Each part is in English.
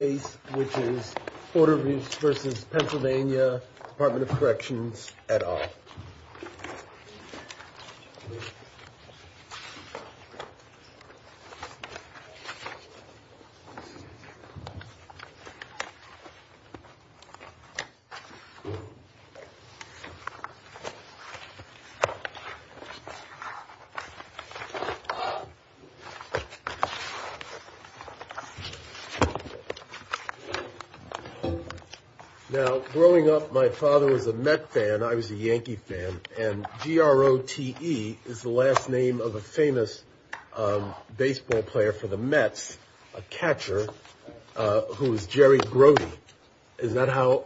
which is Porter v. Pennsylvania Department of Corrections et al. Now, growing up, my father was a Mets fan, I was a Yankees fan, and G-R-O-T-E is the last name of a famous baseball player for the Mets, a catcher, who was Jerry Grody. Is that how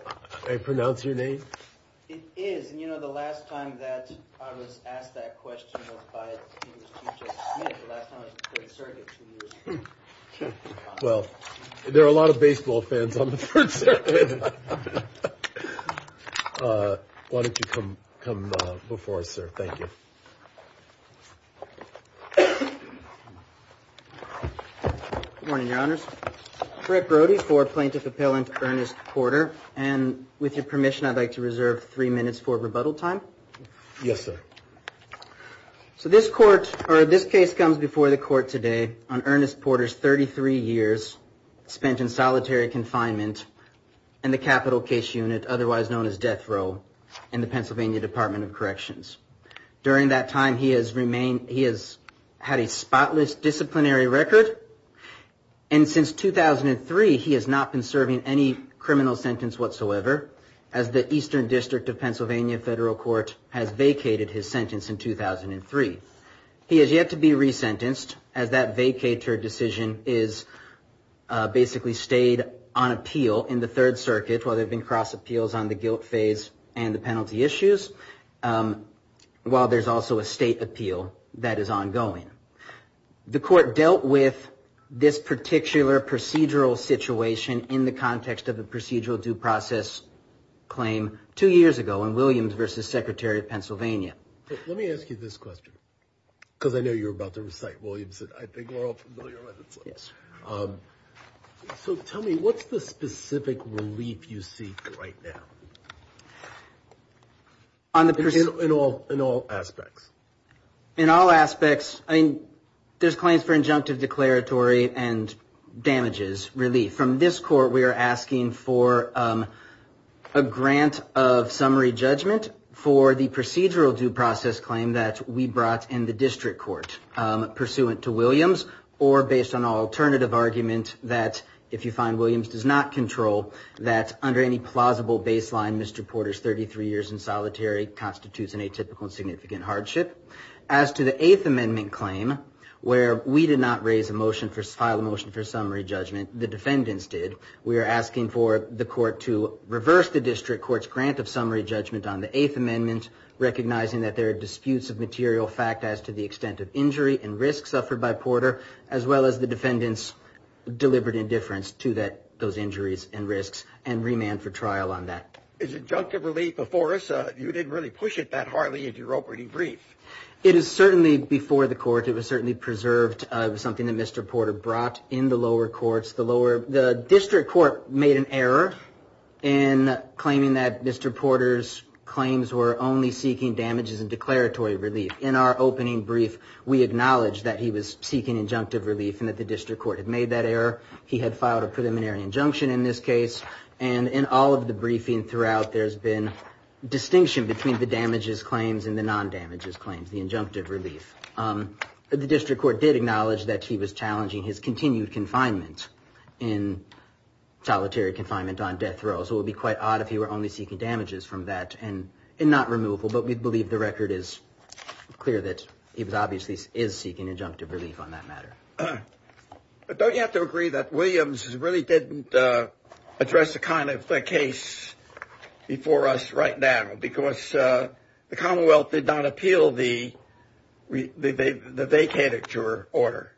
I pronounce your name? It is, and you know, the last time that I was asked that question was by, it was P.J. Smith, but that's not a great subject to use. Well, there are a lot of baseball fans on the first page. Why don't you come before us, sir? Thank you. Good morning, Your Honors. Fred Brody for Plaintiff Appellant Ernest Porter, and with your permission, I'd like to reserve three minutes for rebuttal time. Yes, sir. So this court, or this case comes before the court today on Ernest Porter's 33 years spent in solitary confinement in the capital case unit, otherwise known as death row, in the Pennsylvania Department of Corrections. During that time, he has had a spotless disciplinary record, and since 2003, he has not been serving any criminal sentence whatsoever, as the Eastern District of Pennsylvania Federal Court has vacated his sentence in 2003. He has yet to be resentenced, as that vacatur decision is basically stayed on appeal in the Third Circuit while there have been cross appeals on the guilt phase and the penalty issues, while there's also a state appeal that is ongoing. The court dealt with this particular procedural situation in the context of a procedural due process claim two years ago in Williams v. Secretary of Pennsylvania. Let me ask you this question, because I know you're about to incite Williams, and I think we're all familiar with this one. Yes. So tell me, what's the specific relief you seek right now in all aspects? In all aspects, there's claims for injunctive declaratory and damages relief. From this court, we are asking for a grant of summary judgment for the procedural due process claim that we brought in the district court, pursuant to Williams, or based on an alternative argument that, if you find Williams does not control, that under any plausible baseline, Mr. Porter's 33 years in solitary constitutes an atypical and significant hardship. As to the Eighth Amendment claim, where we did not raise a motion to file a motion for summary judgment, the defendants did. We are asking for the court to reverse the district court's grant of summary judgment on the Eighth Amendment, recognizing that there are disputes of material fact as to the extent of injury and risk suffered by Porter, as well as the defendant's deliberate indifference to those injuries and risks, and remand for trial on that. Is injunctive relief before us? You didn't really push it that hardly, as you wrote pretty brief. It is certainly before the court. It was certainly preserved as something that Mr. Porter brought in the lower courts. The district court made an error in claiming that Mr. Porter's claims were only seeking damages and declaratory relief. In our opening brief, we acknowledged that he was seeking injunctive relief and that the district court had made that error. He had filed a preliminary injunction in this case. In all of the briefing throughout, there has been distinction between the damages claims and the non-damages claims, the injunctive relief. The district court did acknowledge that he was challenging his continued confinement in solitary confinement on death row, so it would be quite odd if he were only seeking damages from that and not removal, but we believe the record is clear that he obviously is seeking injunctive relief on that matter. Don't you have to agree that Williams really didn't address the kind of case before us right now because the Commonwealth did not appeal the vacatur order?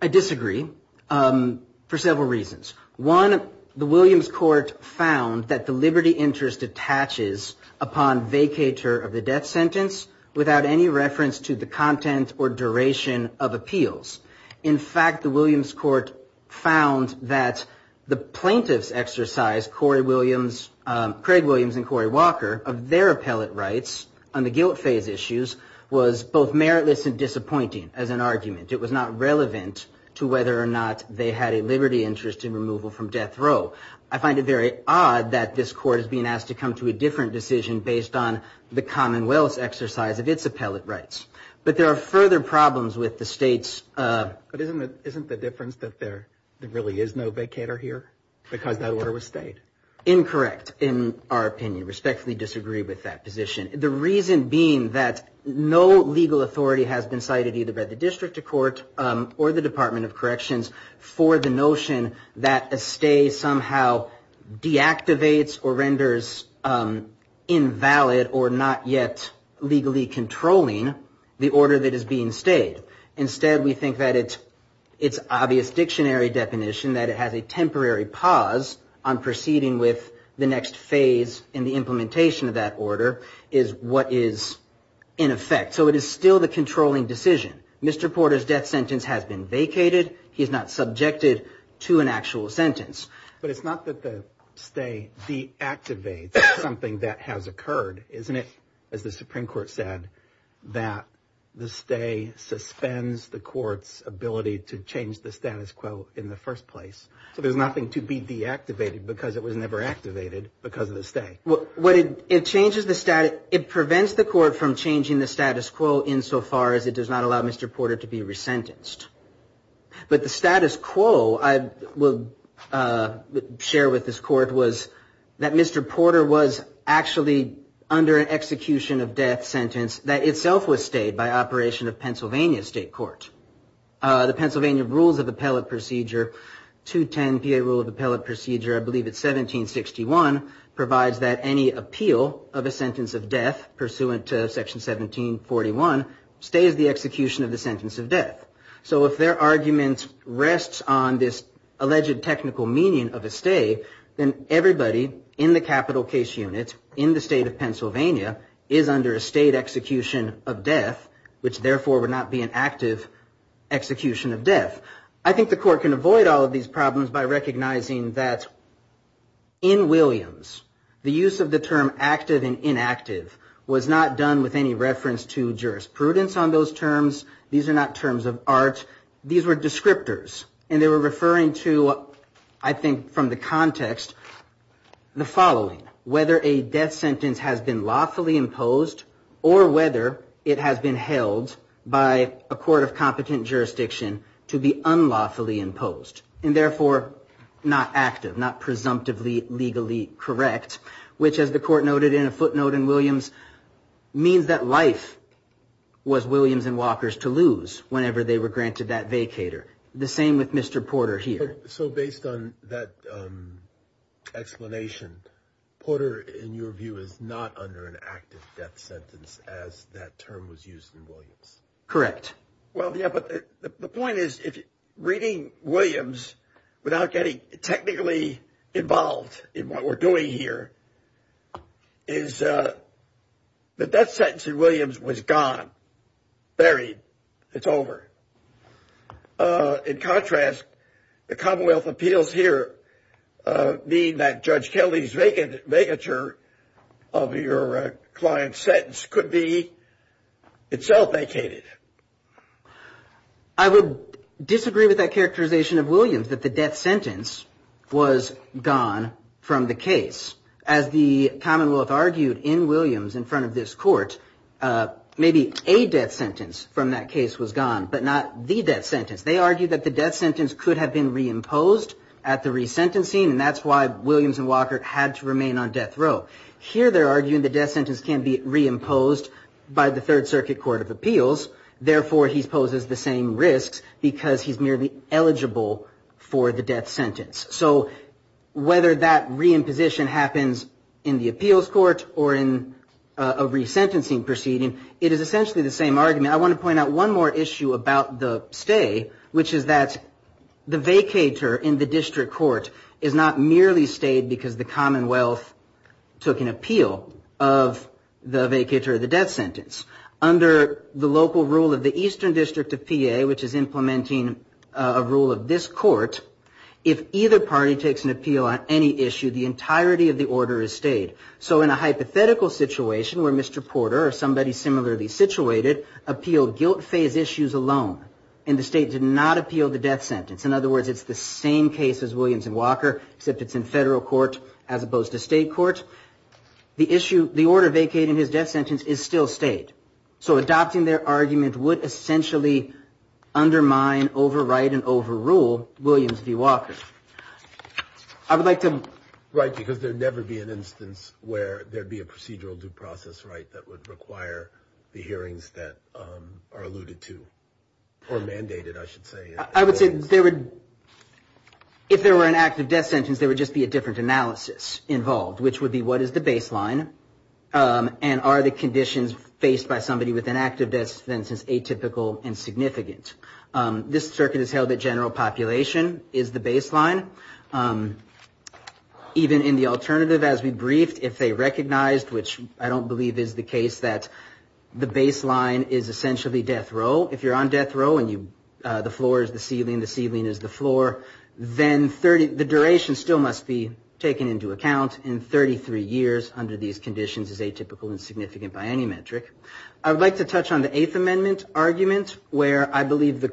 I disagree for several reasons. One, the Williams court found that the liberty interest attaches upon vacatur of the death sentence without any reference to the content or duration of appeals. In fact, the Williams court found that the plaintiffs exercised, Craig Williams and Corey Walker, of their appellate rights on the guilt phase issues was both meritless and disappointing as an argument. It was not relevant to whether or not they had a liberty interest in removal from death row. I find it very odd that this court is being asked to come to a different decision based on the Commonwealth exercise of its appellate rights. But there are further problems with the state's... But isn't the difference that there really is no vacatur here because that order was stayed? Incorrect, in our opinion. Respectfully disagree with that position. The reason being that no legal authority has been cited either by the district court or the Department of Corrections for the notion that a stay somehow deactivates or renders invalid or not yet legally controlling the order that is being stayed. Instead, we think that it's obvious dictionary definition that it has a temporary pause on proceeding with the next phase in the implementation of that order is what is in effect. So it is still the controlling decision. Mr. Porter's death sentence has been vacated. He's not subjected to an actual sentence. But it's not that the stay deactivates something that has occurred, isn't it? As the Supreme Court said, that the stay suspends the court's ability to change the status quo in the first place. There's nothing to be deactivated because it was never activated because of the stay. It prevents the court from changing the status quo insofar as it does not allow Mr. Porter to be resentenced. But the status quo, I will share with this court, was that Mr. Porter was actually under an execution of death sentence that itself was stayed by operation of Pennsylvania State Court. The Pennsylvania Rules of Appellate Procedure, 210 VA Rule of Appellate Procedure, I believe it's 1761, provides that any appeal of a sentence of death pursuant to Section 1741 stays the execution of the sentence of death. So if their argument rests on this alleged technical meaning of a stay, then everybody in the capital case unit in the state of Pennsylvania is under a state execution of death, which therefore would not be an active execution of death. I think the court can avoid all of these problems by recognizing that in Williams, the use of the term active and inactive was not done with any reference to jurisprudence on those terms. These are not terms of art. These were descriptors. And they were referring to, I think from the context, the following. Whether a death sentence has been lawfully imposed or whether it has been held by a court of competent jurisdiction to be unlawfully imposed and therefore not active, not presumptively legally correct, which, as the court noted in a footnote in Williams, means that life was Williams and Walker's to lose whenever they were granted that vacator. The same with Mr. Porter here. So based on that explanation, Porter, in your view, is not under an active death sentence as that term was used in Williams. Correct. Well, yeah, but the point is, reading Williams without getting technically involved in what we're doing here, is the death sentence in Williams was gone, buried. It's over. In contrast, the Commonwealth appeals here mean that Judge Kelly's vacatur of your client's sentence could be itself vacated. I would disagree with that characterization of Williams, that the death sentence was gone from the case. As the Commonwealth argued in Williams in front of this court, maybe a death sentence from that case was gone, but not the death sentence. They argued that the death sentence could have been reimposed at the resentencing, and that's why Williams and Walker had to remain on death row. Here they're arguing the death sentence can be reimposed by the Third Circuit Court of Appeals. Therefore, he poses the same risk because he's nearly eligible for the death sentence. Whether that reimposition happens in the appeals court or in a resentencing proceeding, it is essentially the same argument. I want to point out one more issue about the stay, which is that the vacatur in the district court is not merely stayed because the Commonwealth took an appeal of the vacatur of the death sentence. Under the local rule of the Eastern District of PA, which is implementing a rule of this court, if either party takes an appeal on any issue, the entirety of the order is stayed. In a hypothetical situation where Mr. Porter or somebody similarly situated appealed guilt-phase issues alone, and the state did not appeal the death sentence, in other words, it's the same case as Williams and Walker, except it's in federal court as opposed to state court, the order vacating his death sentence is still stayed. So adopting their argument would essentially undermine, overwrite, and overrule Williams v. Walker. I would like to... Right, because there'd never be an instance where there'd be a procedural due process right that would require the hearings that are alluded to, or mandated, I should say. I would say there would... If there were an active death sentence, there would just be a different analysis involved, which would be what is the baseline, and are the conditions faced by somebody with an active death sentence atypical and significant. This circuit is held that general population is the baseline. Even in the alternative, as we briefed, if they recognized, which I don't believe is the case, that the baseline is essentially death row. If you're on death row and the floor is the ceiling, the ceiling is the floor, then the duration still must be taken into account, and 33 years under these conditions is atypical and significant by any metric. I would like to touch on the Eighth Amendment argument, where I believe the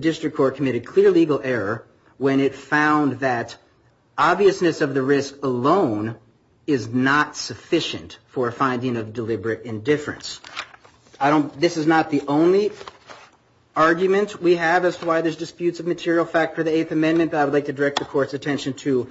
district court committed clear legal error when it found that for a finding of deliberate indifference. This is not the only argument we have as to why there's disputes of material fact for the Eighth Amendment, but I would like to direct the court's attention to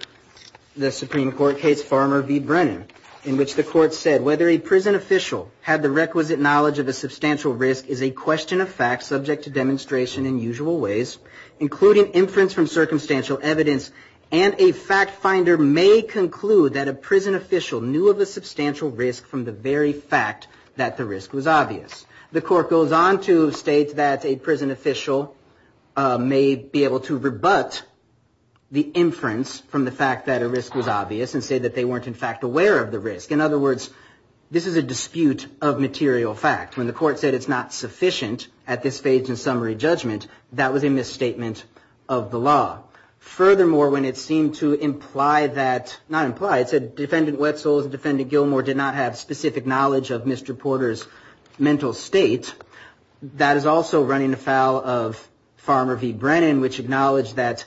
the Supreme Court case Farmer v. Brennan, in which the court said, whether a prison official had the requisite knowledge of the substantial risk is a question of fact subject to demonstration in usual ways, including inference from circumstantial evidence, and a fact finder may conclude that a prison official knew of the substantial risk from the very fact that the risk was obvious. The court goes on to state that a prison official may be able to rebut the inference from the fact that a risk was obvious and say that they weren't in fact aware of the risk. In other words, this is a dispute of material fact. When the court said it's not sufficient at this phase in summary judgment, that was a misstatement of the law. Furthermore, when it seemed to imply that, not imply, it said, Defendant Wetzel and Defendant Gilmour did not have specific knowledge of Mr. Porter's mental state, that is also running afoul of Farmer v. Brennan, which acknowledged that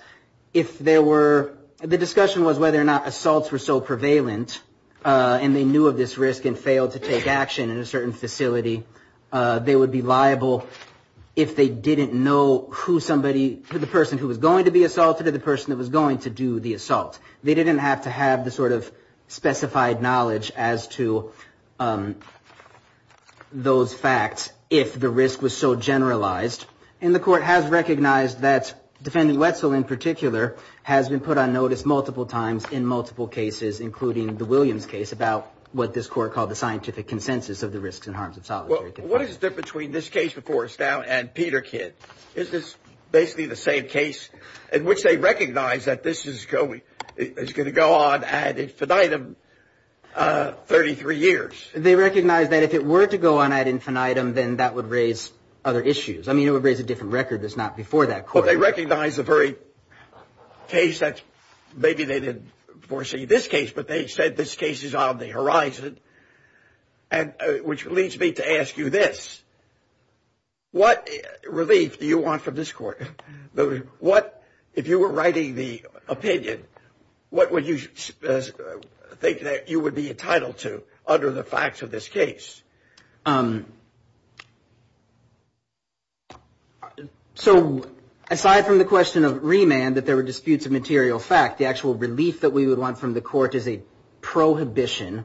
if there were, the discussion was whether or not assaults were so prevalent, and they knew of this risk and failed to take action in a certain facility, they would be liable if they didn't know who somebody, the person who was going to be assaulted or the person who was going to do the assault. They didn't have to have the sort of specified knowledge as to those facts if the risk was so generalized, and the court has recognized that Defendant Wetzel, in particular, has been put on notice multiple times in multiple cases, including the Williams case, about what this court called the scientific consensus of the risks and harms of solitary detention. What is the difference between this case, of course, now and Peter Kidd? Is this basically the same case in which they recognize that this is going to go on ad infinitum 33 years? They recognize that if it were to go on ad infinitum, then that would raise other issues. I mean, it would raise a different record that's not before that court. Well, they recognize the very case that maybe they didn't foresee this case, but they said this case is on the horizon, which leads me to ask you this. What relief do you want from this court? If you were writing the opinion, what would you think that you would be entitled to under the facts of this case? So aside from the question of remand, that there were disputes of material fact, the actual relief that we would want from the court is a prohibition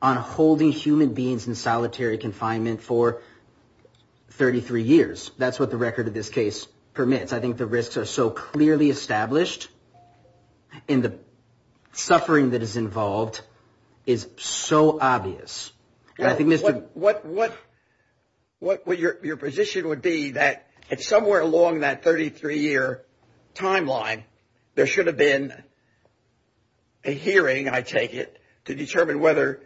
on holding human beings in solitary confinement for 33 years. That's what the record of this case permits. I think the risks are so clearly established, and the suffering that is involved is so obvious. Your position would be that somewhere along that 33-year timeline, there should have been a hearing, I take it, to determine whether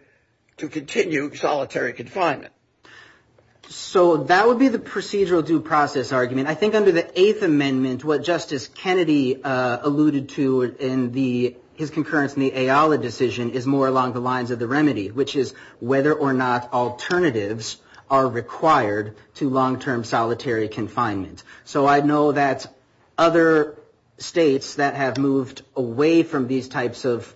to continue solitary confinement. So that would be the procedural due process argument. I think under the Eighth Amendment, what Justice Kennedy alluded to in his concurrence in the AOLA decision is more along the lines of the remedy, which is whether or not alternatives are required to long-term solitary confinement. So I know that other states that have moved away from these types of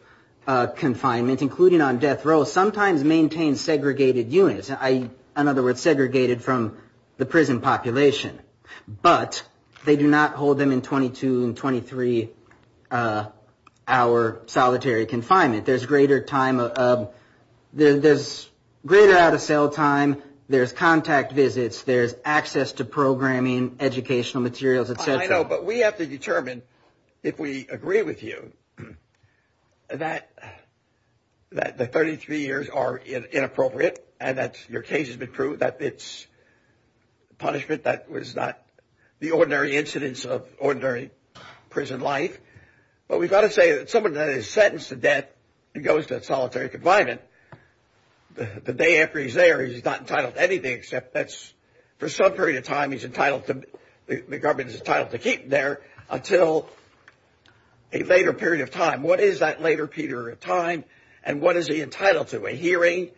confinement, including on death row, sometimes maintain segregated units, in other words, segregated from the prison population. But they do not hold them in 22 and 23-hour solitary confinement. There's greater out-of-cell time. There's contact visits. There's access to programming, educational materials, et cetera. I know, but we have to determine, if we agree with you, that the 33 years are inappropriate, and that your case has been proved that it's punishment that was not the ordinary incidence of ordinary prison life. But we've got to say that someone that is sentenced to death and goes to solitary confinement, the day after he's there he's not entitled to anything except that for some period of time the government is entitled to keep him there until a later period of time. What is that later period of time, and what is he entitled to? A hearing,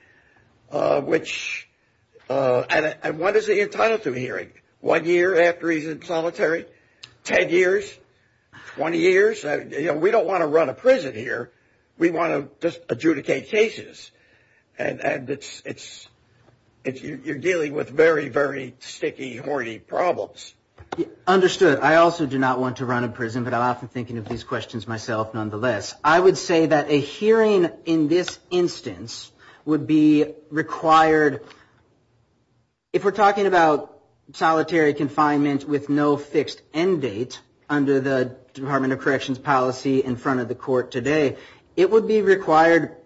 which – and what is he entitled to a hearing? One year after he's in solitary? Ten years? Twenty years? We don't want to run a prison here. We want to just adjudicate cases, and you're dealing with very, very sticky, horny problems. Understood. I also do not want to run a prison, but I'm often thinking of these questions myself nonetheless. I would say that a hearing in this instance would be required – if we're talking about solitary confinement with no fixed end date under the Department of Corrections policy in front of the court today, it would be required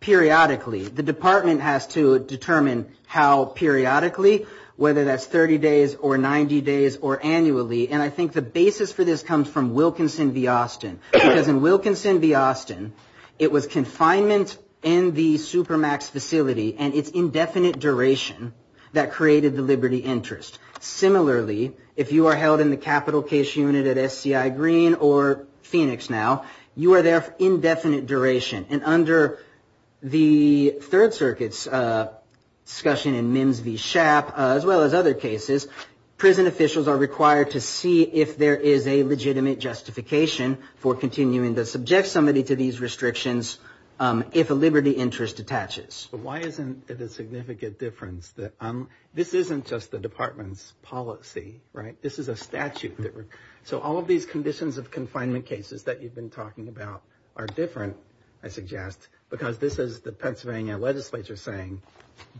periodically. The department has to determine how periodically, whether that's 30 days or 90 days or annually, and I think the basis for this comes from Wilkinson v. Austin. Because in Wilkinson v. Austin, it was confinement in the Supermax facility and its indefinite duration that created the liberty interest. Similarly, if you are held in the capital case unit at SCI Green or Phoenix now, you are there for indefinite duration. And under the Third Circuit's discussion in Mims v. Schaap, as well as other cases, prison officials are required to see if there is a legitimate justification for continuing to subject somebody to these restrictions if a liberty interest detaches. But why isn't it a significant difference? This isn't just the department's policy, right? This is a statute. So all of these conditions of confinement cases that you've been talking about are different, I suggest, because this is the Pennsylvania legislature saying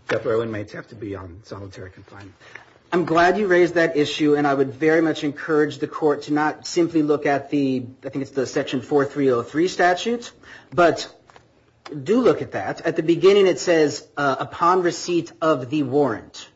that Berlin may have to be on solitary confinement. I'm glad you raised that issue, and I would very much encourage the court to not simply look at the, I think it's the Section 4303 statute, but do look at that. At the beginning it says, upon receipt of the warrant.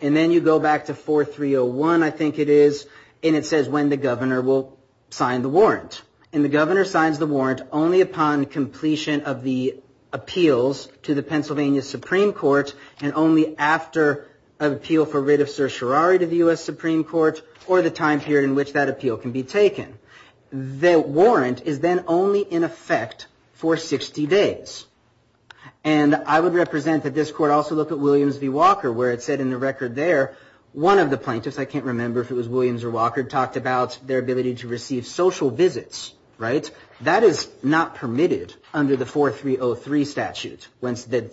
And then you go back to 4301, I think it is, and it says when the governor will sign the warrant. And the governor signs the warrant only upon completion of the appeals to the Pennsylvania Supreme Court and only after an appeal for writ of certiorari to the U.S. Supreme Court or the time period in which that appeal can be taken. The warrant is then only in effect for 60 days. And I would represent that this court also look at Williams v. Walker where it said in the record there, one of the plaintiffs, I can't remember if it was Williams or Walker, talked about their ability to receive social visits, right? That is not permitted under the 4303 statute when the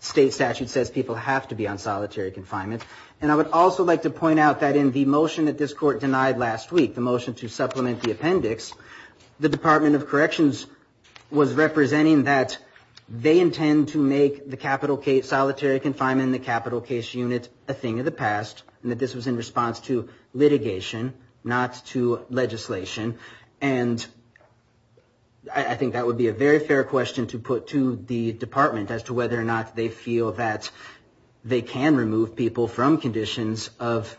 state statute says people have to be on solitary confinement. And I would also like to point out that in the motion that this court denied last week, the motion to supplement the appendix, the Department of Corrections was representing that they intend to make the solitary confinement in the capital case unit a thing of the past, and that this was in response to litigation, not to legislation. And I think that would be a very fair question to put to the department as to whether or not they feel that they can remove people from conditions of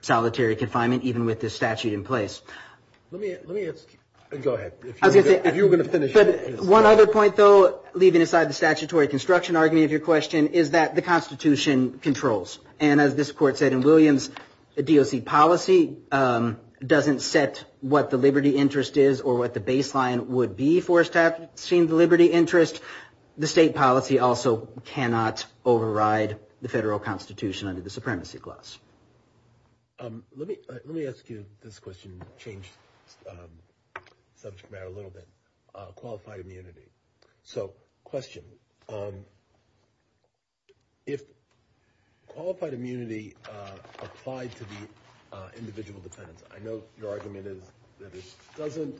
solitary confinement, even with this statute in place. Let me ask – go ahead. One other point, though, leaving aside the statutory construction argument of your question, is that the Constitution controls. And as this court said in Williams, the DOC policy doesn't set what the liberty interest is or what the baseline would be for establishing the liberty interest. The state policy also cannot override the federal Constitution under the supremacy clause. Let me ask you this question and change the subject matter a little bit. Qualified immunity. So question. If qualified immunity applied to the individual defendant – I know your argument is that it doesn't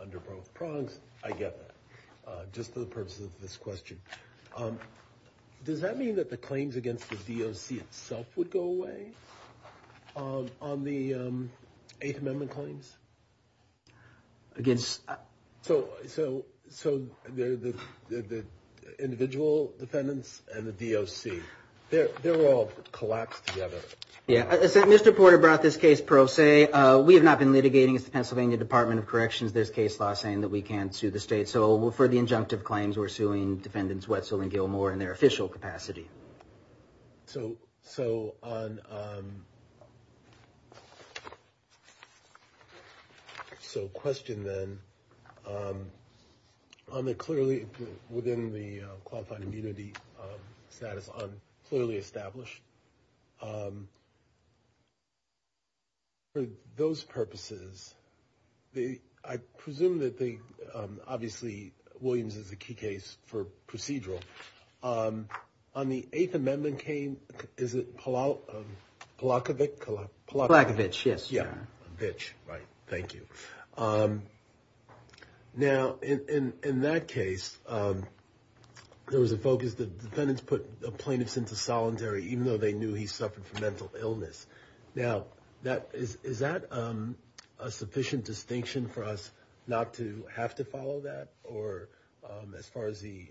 under both prongs. I get that, just for the purposes of this question. Does that mean that the claims against the DOC itself would go away on the Eighth Amendment claims? Against – So the individual defendants and the DOC, they're all collapsed together. Yeah. As Mr. Porter brought up this case pro se, we have not been litigating it. It's the Pennsylvania Department of Corrections, this case, law saying that we can't sue the state. So for the injunctive claims, we're suing defendants Wetzel and Gilmore in their official capacity. So on – so question then. On the clearly – within the qualified immunity status on clearly established, for those purposes, I presume that they – obviously Williams is a key case for procedural. On the Eighth Amendment claim, is it Palachowicz? Palachowicz, yes. Palachowicz, right. Thank you. Now, in that case, there was a focus that defendants put plaintiffs into solitary, even though they knew he suffered from mental illness. Now, is that a sufficient distinction for us not to have to follow that? Or as far as the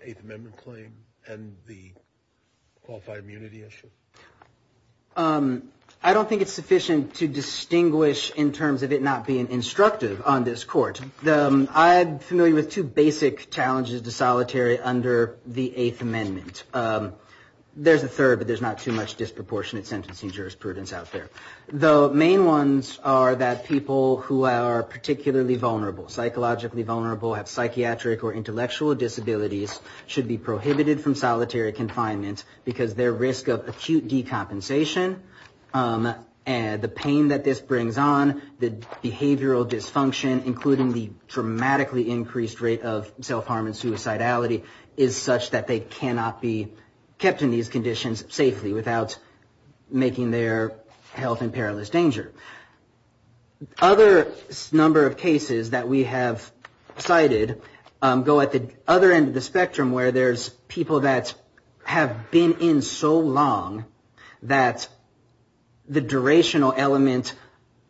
Eighth Amendment claim and the qualified immunity issue? I don't think it's sufficient to distinguish in terms of it not being instructive on this court. I'm familiar with two basic challenges to solitary under the Eighth Amendment. There's a third, but there's not too much disproportionate sentencing jurisprudence out there. The main ones are that people who are particularly vulnerable, psychologically vulnerable, have psychiatric or intellectual disabilities, should be prohibited from solitary confinement because their risk of acute decompensation and the pain that this brings on, the behavioral dysfunction including the dramatically increased rate of self-harm and suicidality is such that they cannot be kept in these conditions safely without making their health in perilous danger. Other number of cases that we have cited go at the other end of the spectrum where there's people that have been in so long that the durational element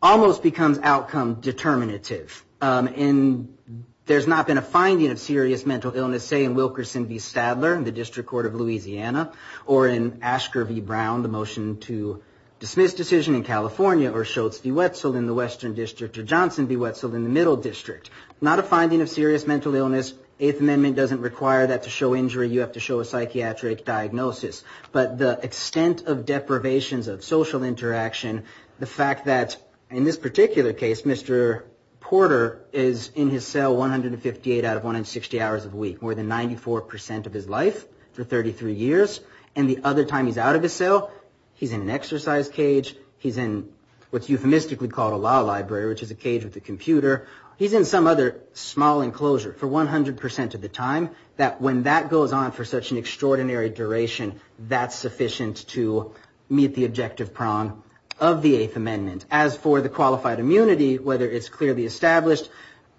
almost becomes outcome determinative. And there's not been a finding of serious mental illness, say, in Wilkerson v. Sadler in the District Court of Louisiana or in Asher v. Brown, the motion to dismiss decision in California or Shultz v. Wetzel in the Western District or Johnson v. Wetzel in the Middle District. Not a finding of serious mental illness. Eighth Amendment doesn't require that to show injury. You have to show a psychiatric diagnosis. But the extent of deprivations of social interaction, the fact that in this particular case, Mr. Porter is in his cell 158 out of 160 hours of the week, more than 94% of his life for 33 years, and the other time he's out of his cell, he's in an exercise cage, he's in what's euphemistically called a law library, which is a cage with a computer, he's in some other small enclosure for 100% of the time, that when that goes on for such an extraordinary duration, that's sufficient to meet the objective prong of the Eighth Amendment. As for the qualified immunity, whether it's clearly established,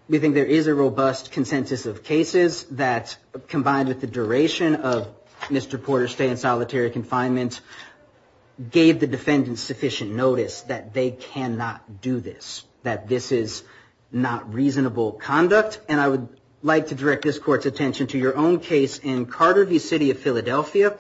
we think there is a robust consensus of cases that, combined with the duration of Mr. Porter's stay in solitary confinement, gave the defendants sufficient notice that they cannot do this, that this is not reasonable conduct. And I would like to direct this Court's attention to your own case in Carter v. City of Philadelphia.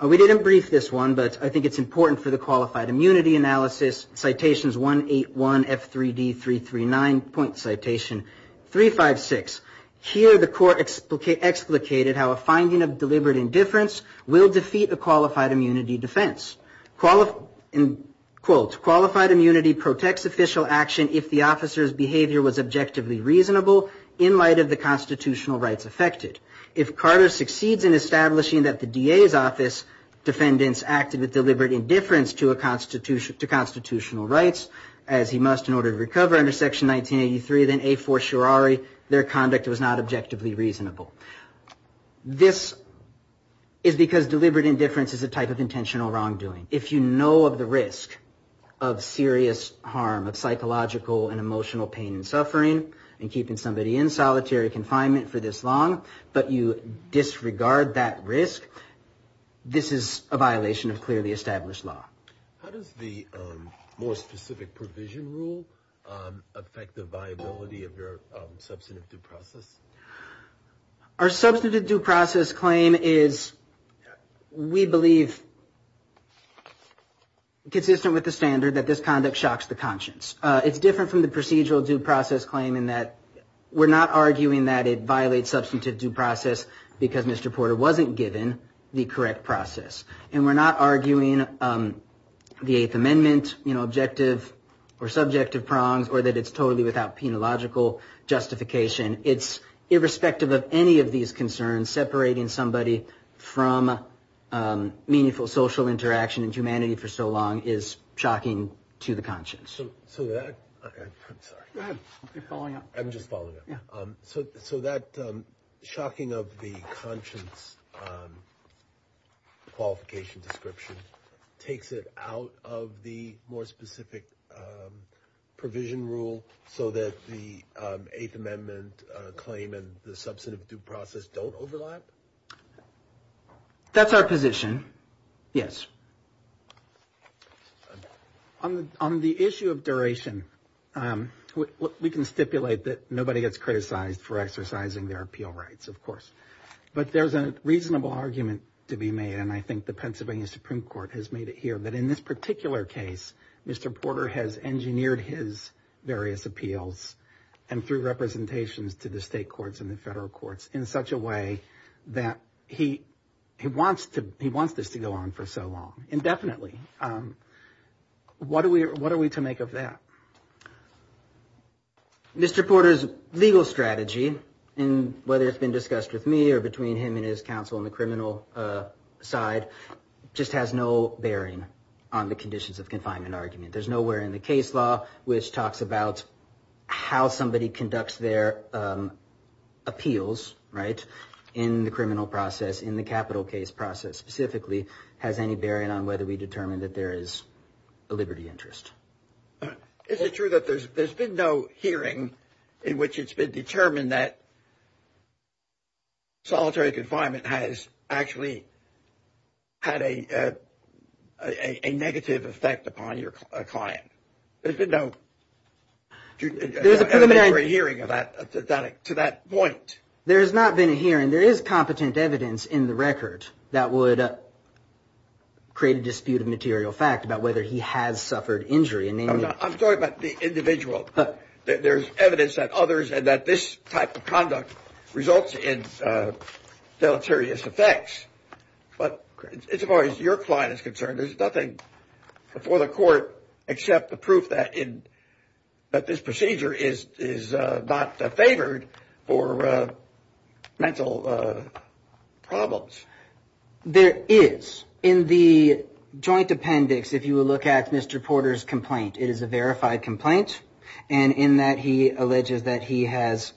We didn't brief this one, but I think it's important for the qualified immunity analysis. Citations 181F3D339, point citation 356. Here the Court explicated how a finding of deliberate indifference will defeat a qualified immunity defense. Quote, qualified immunity protects official action if the officer's behavior was objectively reasonable in light of the constitutional rights affected. If Carter succeeds in establishing that the DA's office defendants acted with deliberate indifference to constitutional rights, as he must in order to recover under Section 1983, then a fortiori their conduct was not objectively reasonable. This is because deliberate indifference is a type of intentional wrongdoing. If you know of the risk of serious harm, of psychological and emotional pain and suffering, in keeping somebody in solitary confinement for this long, but you disregard that risk, this is a violation of clearly established law. How does the more specific provision rule affect the viability of your substantive due process? Our substantive due process claim is, we believe, consistent with the standard that this conduct shocks the conscience. It's different from the procedural due process claim in that we're not arguing that it violates substantive due process because Mr. Porter wasn't given the correct process. And we're not arguing the Eighth Amendment objective or subjective prongs or that it's totally without penological justification. It's irrespective of any of these concerns, separating somebody from meaningful social interaction in humanity for so long is shocking to the conscience. So that shocking of the conscience qualification description takes it out of the more specific provision rule so that the Eighth Amendment claim and the substantive due process don't overlap? That's our position, yes. On the issue of duration, we can stipulate that nobody gets criticized for exercising their appeal rights, of course. But there's a reasonable argument to be made, and I think the Pennsylvania Supreme Court has made it here, that in this particular case, Mr. Porter has engineered his various appeals and through representations to the state courts and the federal courts in such a way that he wants this to go on for so long, indefinitely. What are we to make of that? Mr. Porter's legal strategy, whether it's been discussed with me or between him and his counsel on the criminal side, just has no bearing on the conditions of confinement argument. There's nowhere in the case law which talks about how somebody conducts their appeals, right, in the criminal process, in the capital case process specifically, has any bearing on whether we determine that there is a liberty interest. Is it true that there's been no hearing in which it's been determined that solitary confinement has actually had a negative effect upon your client? There's been no hearing to that point. There has not been a hearing. There is competent evidence in the record that would create a dispute of material fact about whether he has suffered injury. I'm sorry about the individual. There's evidence that others and that this type of conduct results in deleterious effects. But as far as your client is concerned, there's nothing before the court except the proof that this procedure is not favored for mental problems. There is. In the joint appendix, if you will look at Mr. Porter's complaint, it is a verified complaint, and in that he alleges that he has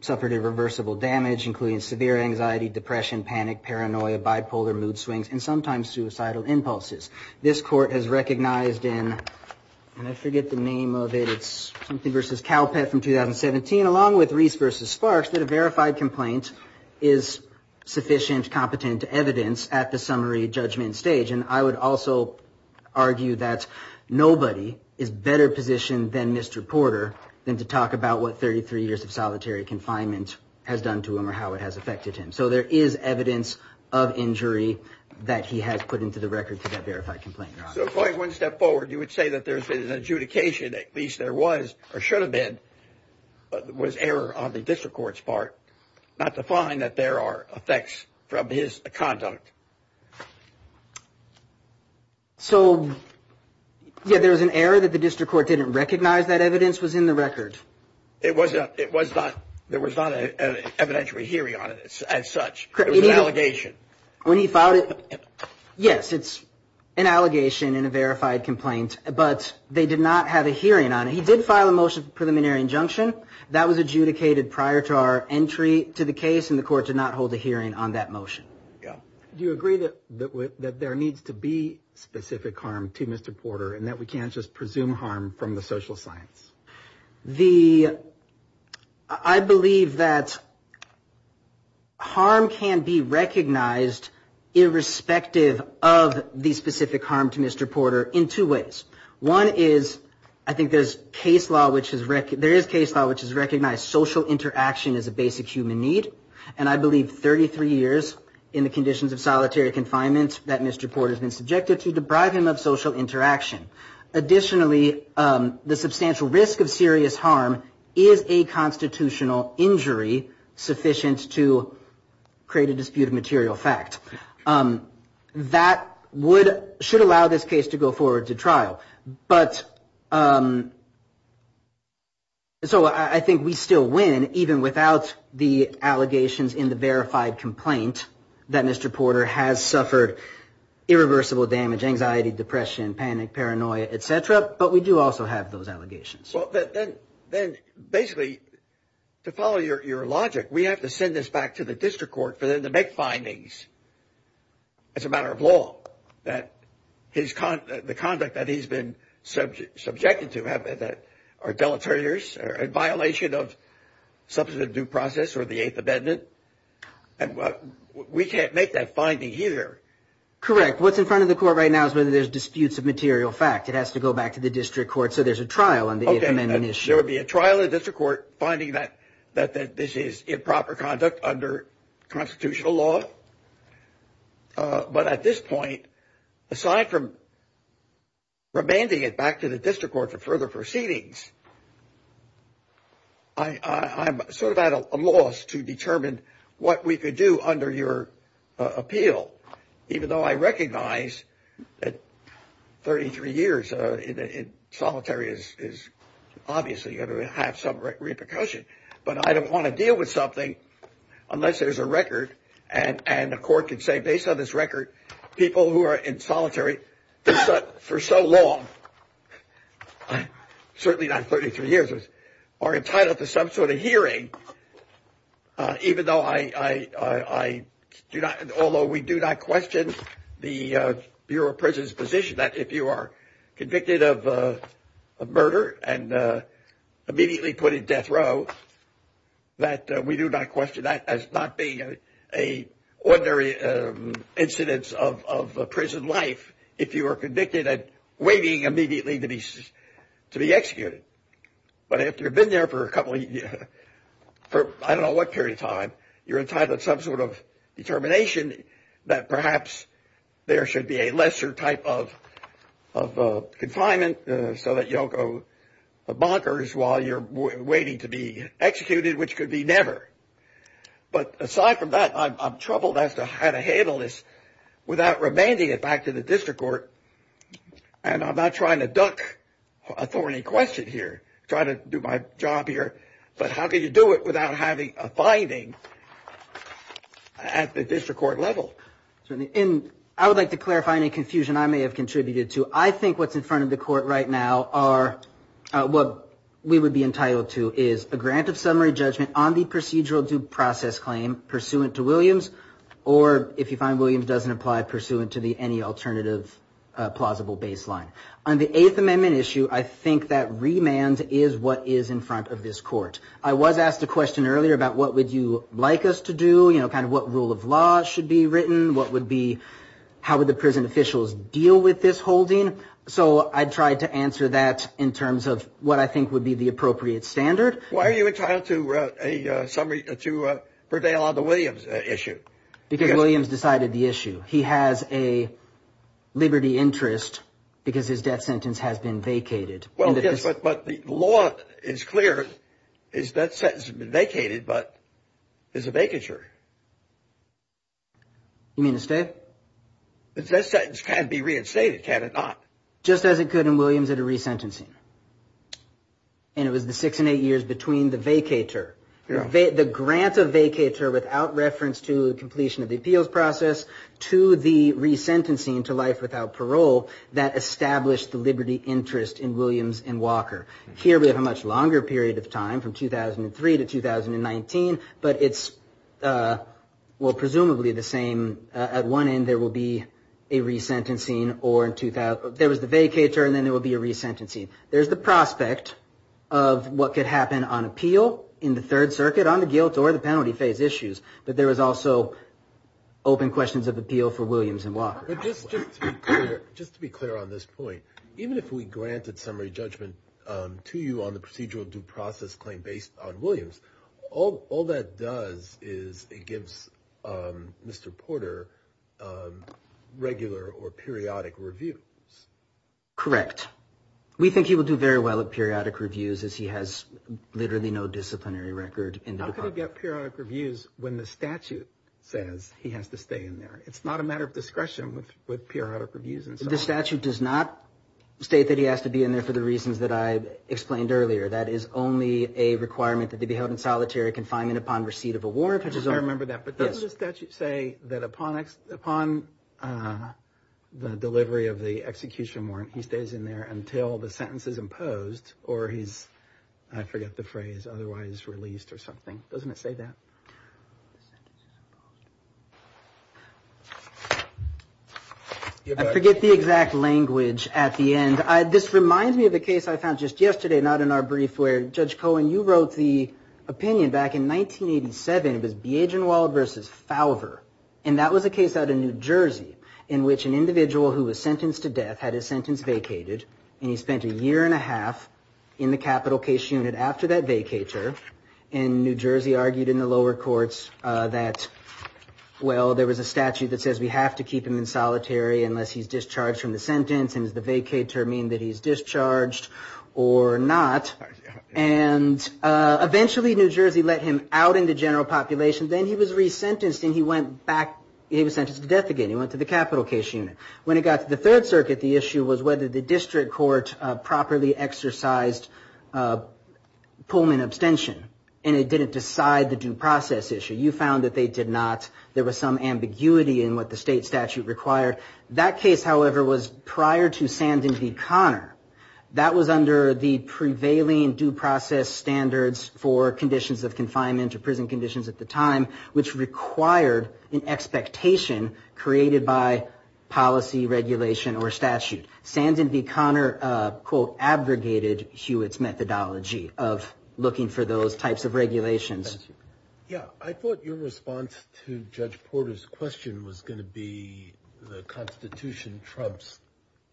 suffered irreversible damage, including severe anxiety, depression, panic, paranoia, bipolar mood swings, and sometimes suicidal impulses. This court has recognized in, I forget the name of it, it's Simpson v. Calpett from 2017, along with Reese v. Sparks, that a verified complaint is sufficient, competent evidence at the summary judgment stage. And I would also argue that nobody is better positioned than Mr. Porter than to talk about what 33 years of solitary confinement has done to him or how it has affected him. So there is evidence of injury that he has put into the record for that verified complaint. So going one step forward, you would say that there's been an adjudication, at least there was or should have been, was error on the district court's part, not to find that there are effects from his conduct. So there was an error that the district court didn't recognize that evidence was in the record? It was not. There was not an evidentiary hearing on it as such. It was an allegation. When he filed it, yes, it's an allegation in a verified complaint, but they did not have a hearing on it. He did file a motion for preliminary injunction. That was adjudicated prior to our entry to the case, and the court did not hold a hearing on that motion. Do you agree that there needs to be specific harm to Mr. Porter and that we can't just presume harm from the social science? I believe that harm can be recognized irrespective of the specific harm to Mr. Porter in two ways. One is I think there is case law which has recognized social interaction as a basic human need, and I believe 33 years in the conditions of solitary confinement that Mr. Porter has been subjected to deprive him of social interaction. Additionally, the substantial risk of serious harm is a constitutional injury sufficient to create a dispute of material fact. That should allow this case to go forward to trial. But so I think we still win even without the allegations in the verified complaint that Mr. Porter has suffered irreversible damage, anxiety, depression, panic, paranoia, et cetera, but we do also have those allegations. Then basically to follow your logic, we have to send this back to the district court for them to make findings as a matter of law that the conduct that he's been subjected to are deleterious, are in violation of substantive due process or the Eighth Amendment. We can't make that finding here. Correct. What's in front of the court right now is whether there's disputes of material fact. It has to go back to the district court so there's a trial on the 8th Amendment issue. There would be a trial in the district court finding that this is improper conduct under constitutional law. But at this point, aside from remanding it back to the district court for further proceedings, I'm sort of at a loss to determine what we could do under your appeal, even though I recognize that 33 years in solitary is obviously going to have some repercussion. But I don't want to deal with something unless there's a record and the court can say based on this record people who are in solitary for so long, certainly not 33 years, are entitled to some sort of hearing, even though I do not, although we do not question the Bureau of Prison's position that if you are convicted of murder and immediately put in death row, that we do not question that as not being an ordinary incidence of prison life if you are convicted and waiting immediately to be executed. But if you've been there for a couple of years, for I don't know what period of time, you're entitled to some sort of determination that perhaps there should be a lesser type of confinement so that you don't go to the bunkers while you're waiting to be executed, which could be never. But aside from that, I'm troubled as to how to handle this without remanding it back to the district court. And I'm not trying to duck a thorny question here. I'm trying to do my job here. But how can you do it without having a finding at the district court level? And I would like to clarify any confusion I may have contributed to. I think what's in front of the court right now are what we would be entitled to is a grant of summary judgment on the procedural due process claim pursuant to Williams or, if you find Williams doesn't apply, pursuant to any alternative plausible baseline. On the Eighth Amendment issue, I think that remand is what is in front of this court. I was asked a question earlier about what would you like us to do, kind of what rule of law should be written, how would the prison officials deal with this holding. So I tried to answer that in terms of what I think would be the appropriate standard. Why are you entitled to a summary to prevail on the Williams issue? Because Williams decided the issue. He has a liberty interest because his death sentence has been vacated. Well, yes, but the law is clear. His death sentence has been vacated, but there's a vacature. You mean a stay? His death sentence can be reinstated, can it not? Just as it could in Williams at a resentencing. And it was the six and eight years between the vacature, the grant of vacature without reference to the completion of the appeals process, to the resentencing to life without parole that established the liberty interest in Williams and Walker. Here we have a much longer period of time from 2003 to 2019, but it's, well, presumably the same. At one end there will be a resentencing or in 2000, there was the vacature and then there will be a resentencing. There's the prospect of what could happen on appeal in the Third Circuit on the guilt or the penalty phase issues, but there was also open questions of appeal for Williams and Walker. Just to be clear on this point, even if we grant a temporary judgment to you on the procedural due process claim based on Williams, all that does is it gives Mr. Porter regular or periodic review. Correct. We think he will do very well at periodic reviews as he has literally no disciplinary record. How can he get periodic reviews when the statute says he has to stay in there? It's not a matter of discretion with periodic reviews. The statute does not state that he has to be in there for the reasons that I explained earlier. That is only a requirement that he be held in solitary confinement upon receipt of a warrant. I remember that, but doesn't the statute say that upon the delivery of the execution warrant, he stays in there until the sentence is imposed or he's, I forget the phrase, otherwise released or something. Doesn't it say that? I forget the exact language at the end. This reminds me of a case I found just yesterday, not in our brief, where Judge Cohen, you wrote the opinion back in 1987 with Biaginwald v. Fowler. That was a case out of New Jersey in which an individual who was sentenced to death had his sentence vacated and he spent a year and a half in the capital case unit after that vacatur. New Jersey argued in the lower courts that there was a statute that says we have to keep him in solitary unless he's discharged from the sentence. Does the vacatur mean that he's discharged or not? Eventually, New Jersey let him out in the general population. Then he was resentenced and he was sentenced to death again. He went to the capital case unit. When it got to the Third Circuit, the issue was whether the district court properly exercised Pullman abstention and it didn't decide the due process issue. You found that they did not. There was some ambiguity in what the state statute required. That case, however, was prior to Sands v. Conner. That was under the prevailing due process standards for conditions of confinement or prison conditions at the time which required an expectation created by policy regulation or statute. Sands v. Conner, quote, abrogated Hewitt's methodology of looking for those types of regulations. I thought your response to Judge Porter's question was going to be the Constitution trumps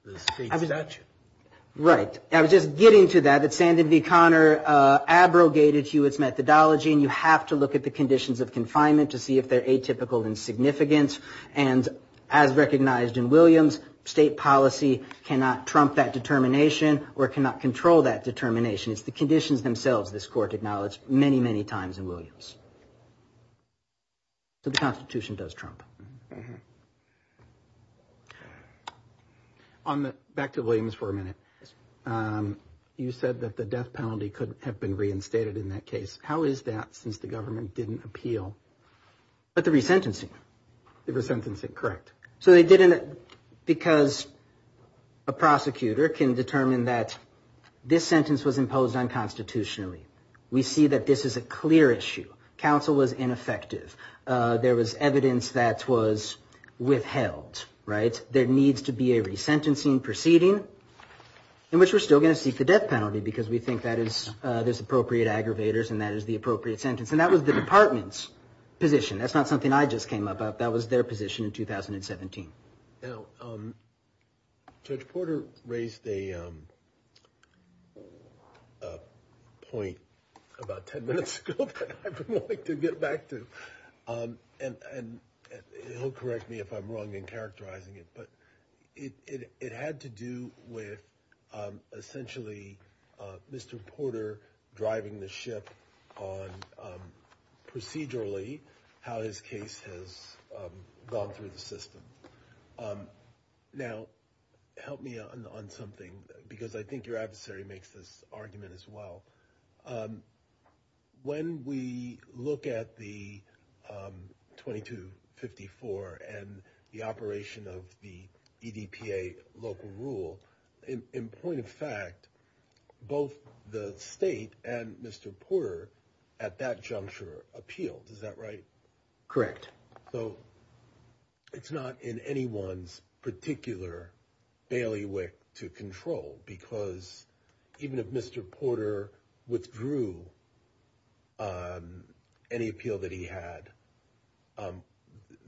the state statute. Right. I was just getting to that. Sands v. Conner abrogated Hewitt's methodology and you have to look at the conditions of confinement to see if they're atypical in significance. As recognized in Williams, state policy cannot trump that determination or cannot control that determination. The conditions themselves, this court acknowledged many, many times in Williams. The Constitution does trump. Back to Williams for a minute. You said that the death penalty could have been reinstated in that case. How is that since the government didn't appeal? But the resentencing. The resentencing, correct. So they didn't because a prosecutor can determine that this sentence was imposed unconstitutionally. We see that this is a clear issue. Counsel was ineffective. There was evidence that was withheld, right. There needs to be a resentencing proceeding in which we're still going to seek the death penalty because we think that is the appropriate aggravators and that is the appropriate sentence. And that was the department's position. That's not something I just came up with. That was their position in 2017. Judge Porter raised a point about 10 minutes ago that I would like to get back to. And he'll correct me if I'm wrong in characterizing it. But it had to do with essentially Mr. Porter driving the ship on procedurally how his case has gone through the system. Now, help me on something because I think your adversary makes this argument as well. When we look at the 2254 and the operation of the local rule in point of fact, both the state and Mr. Porter at that juncture appeal. Is that right? Correct. So it's not in anyone's particular bailiwick to control because even if Mr. Porter withdrew any appeal that he had,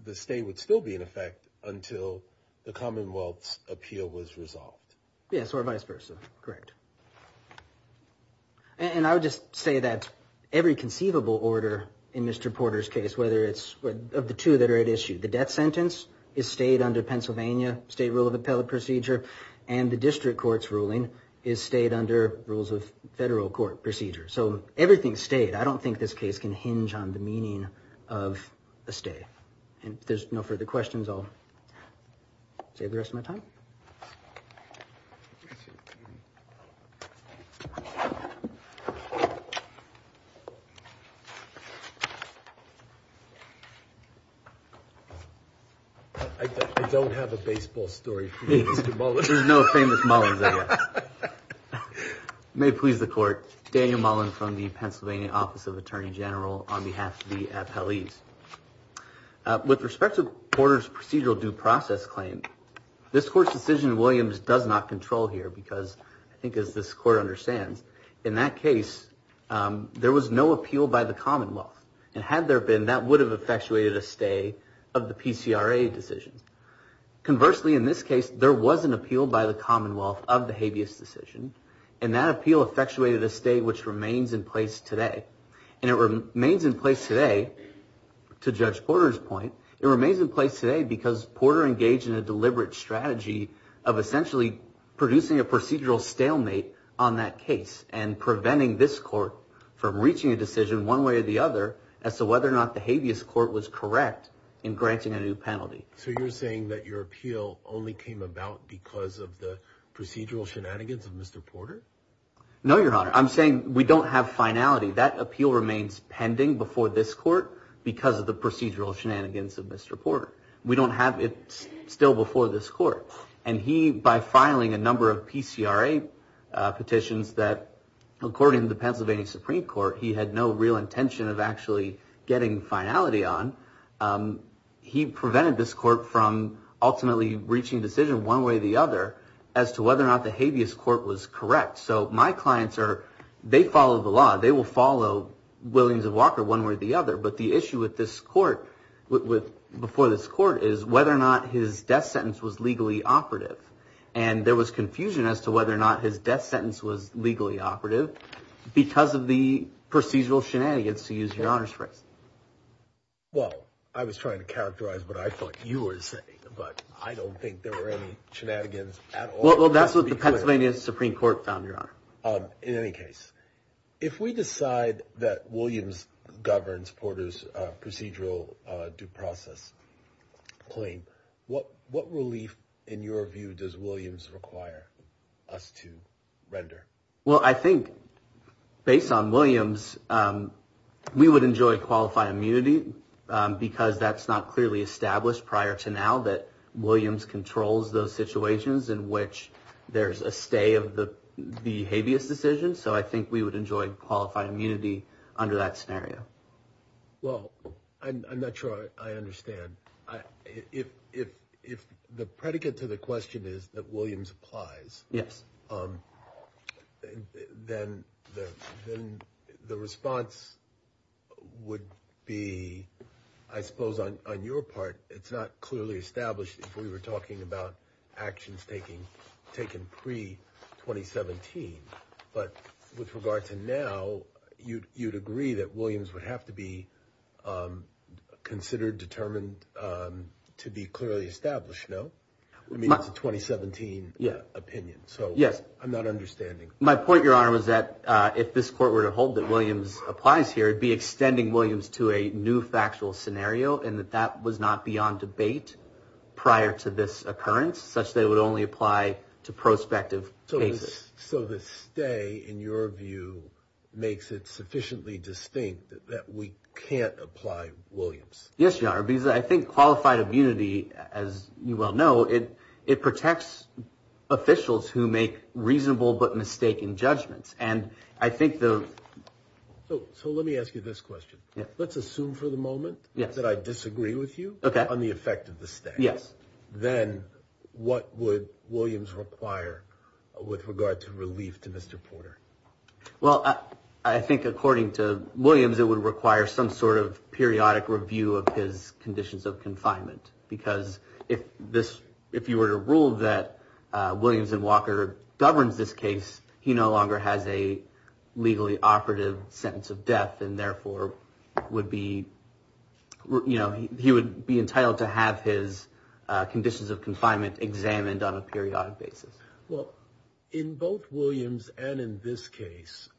the state would still be in effect until the Commonwealth's appeal was resolved. Yes, or vice versa. Correct. And I would just say that every conceivable order in Mr. Porter's case, whether it's of the two that are at issue, the death sentence is state under Pennsylvania state rule of appellate procedure and the district court's ruling is state under rules of federal court procedure. So everything is state. I don't think this case can hinge on the meaning of a state. If there's no further questions, I'll save the rest of my time. I don't have a baseball story for you, Mr. Mullins. There's no famous Mullins there. You may please the court. Daniel Mullins from the Pennsylvania Office of Attorney General on behalf of the appellees. With respect to Porter's procedural due process claim, this court's decision in Williams does not control here because I think as this court understands, in that case, there was no appeal by the Commonwealth. And had there been, that would have effectuated a stay of the PCRA decision. Conversely, in this case, there was an appeal by the Commonwealth of the habeas decision and that appeal effectuated a stay which remains in place today. And it remains in place today, to Judge Porter's point, it remains in place today because Porter engaged in a deliberate strategy of essentially producing a procedural stalemate on that case and preventing this court from reaching a decision one way or the other as to whether or not the habeas court was correct in granting a new penalty. So you're saying that your appeal only came about because of the procedural shenanigans of Mr. Porter? No, Your Honor. I'm saying we don't have finality. That appeal remains pending before this court because of the procedural shenanigans of Mr. Porter. We don't have it still before this court. And he, by filing a number of PCRA petitions that, according to the Pennsylvania Supreme Court, he had no real intention of actually getting finality on, he prevented this court from ultimately reaching a decision one way or the other as to whether or not the habeas court was correct. So my clients are, they follow the law, they will follow Williams and Walker one way or the other, but the issue with this court, before this court, is whether or not his death sentence was legally operative. And there was confusion as to whether or not his death sentence was legally operative because of the procedural shenanigans, to use Your Honor's term. Well, I was trying to characterize what I thought you were saying, but I don't think there were any shenanigans at all. Well, that's what the Pennsylvania Supreme Court found, Your Honor. In any case, if we decide that Williams governs Porter's procedural due process claim, what relief, in your view, does Williams require us to render? Well, I think, based on Williams, we would enjoy qualified immunity because that's not clearly established prior to now that Williams controls those situations in which there's a stay of the habeas decision. So I think we would enjoy qualified immunity under that scenario. Well, I'm not sure I understand. If the predicate to the question is that Williams applies, then the response would be, I suppose, on your part, it's not clearly established if we were talking about actions taken pre-2017. But with regard to now, you'd agree that Williams would have to be considered, determined to be clearly established, no? I mean, it's a 2017 opinion. So, yes, I'm not understanding. My point, Your Honor, was that if this court were to hold that Williams applies here, it would be extending Williams to a new factual scenario and that that was not beyond debate prior to this occurrence, such that it would only apply to prospective cases. So the stay, in your view, makes it sufficiently distinct that we can't apply Williams? Yes, Your Honor, because I think qualified immunity, as you well know, it protects officials who make reasonable but mistaken judgments. So let me ask you this question. Let's assume for the moment that I disagree with you on the effect of the stay. Then what would Williams require with regard to relief to Mr. Porter? Well, I think according to Williams, it would require some sort of periodic review of his conditions of confinement. Because if you were to rule that Williams and Walker governed this case, he no longer has a legally operative sentence of death and therefore he would be entitled to have his conditions of confinement examined on a periodic basis. Well, in both Williams and in this case,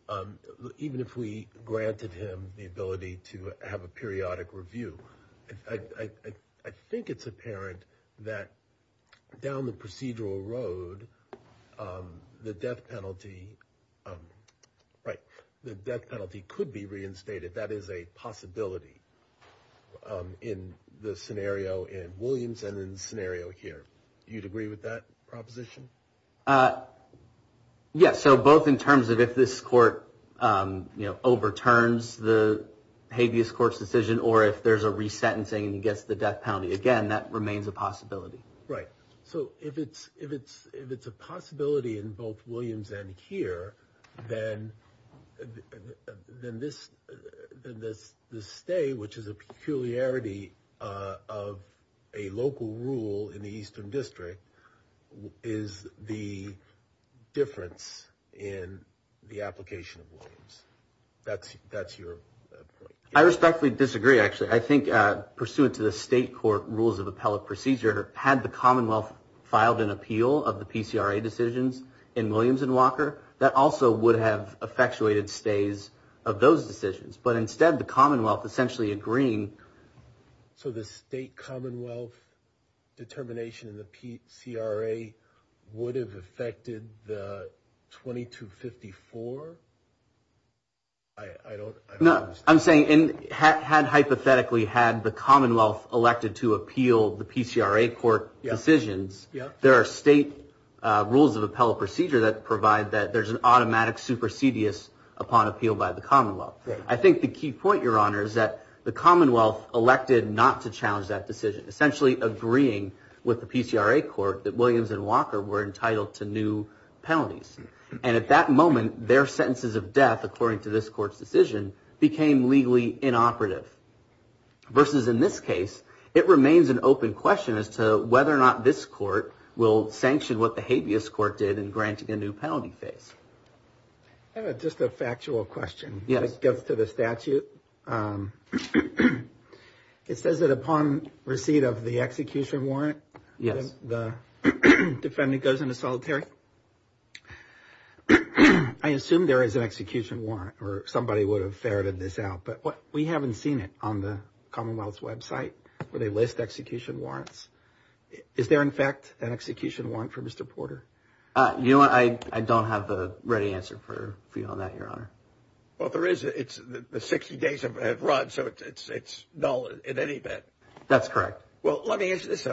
even if we granted him the ability to have a periodic review, I think it's apparent that down the procedural road, the death penalty could be reinstated. That is a possibility in the scenario in Williams and in the scenario here. Do you agree with that proposition? Yes, so both in terms of if this court overturns the habeas court's decision or if there's a resentencing against the death penalty. Again, that remains a possibility. Right. So if it's a possibility in both Williams and here, then the stay, which is a peculiarity of a local rule in the Eastern District, is the difference in the application of Williams. That's your point. I respectfully disagree, actually. I think pursuant to the state court rules of appellate procedure, had the commonwealth filed an appeal of the PCRA decisions in Williams and Walker, that also would have effectuated stays of those decisions. But instead, the commonwealth essentially agreeing. So the state commonwealth determination of the PCRA would have affected the 2254? No, I'm saying had hypothetically had the commonwealth elected to appeal the PCRA court decisions, there are state rules of appellate procedure that provide that there's an automatic supersedious upon appeal by the commonwealth. I think the key point, Your Honor, is that the commonwealth elected not to challenge that decision, essentially agreeing with the PCRA court that Williams and Walker were entitled to new penalties. And at that moment, their sentences of death, according to this court's decision, became legally inoperative. Versus in this case, it remains an open question as to whether or not this court will sanction what the habeas court did in granting a new penalty phase. I have just a factual question. It goes to the statute. It says that upon receipt of the execution warrant, the defendant goes into solitary. I assume there is an execution warrant or somebody would have ferreted this out. But we haven't seen it on the commonwealth's website where they list execution warrants. Is there, in fact, an execution warrant for Mr. Porter? You know what, I don't have the right answer for you on that, Your Honor. Well, there is. The 60 days have run, so it's null in any event. That's correct. Well, let me answer this.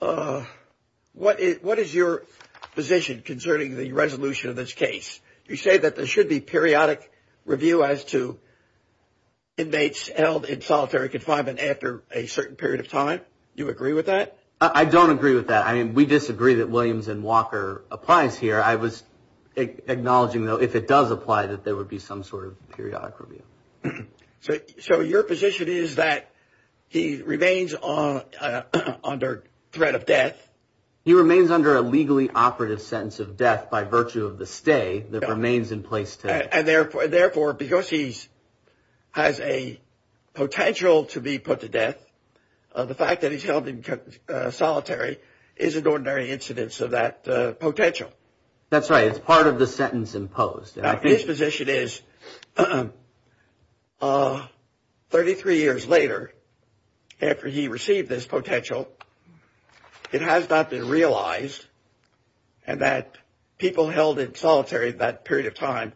What is your position concerning the resolution of this case? You say that there should be periodic review as to inmates held in solitary confinement after a certain period of time. Do you agree with that? I don't agree with that. We disagree that Williams and Walker applies here. I was acknowledging, though, if it does apply, that there would be some sort of periodic review. So your position is that he remains under threat of death. He remains under a legally operative sentence of death by virtue of the stay that remains in place. Therefore, because he has a potential to be put to death, the fact that he's held in solitary is an ordinary incidence of that potential. That's right. It's part of the sentence imposed. Now, his position is, 33 years later, after he received this potential, it has not been realized that people held in solitary that period of time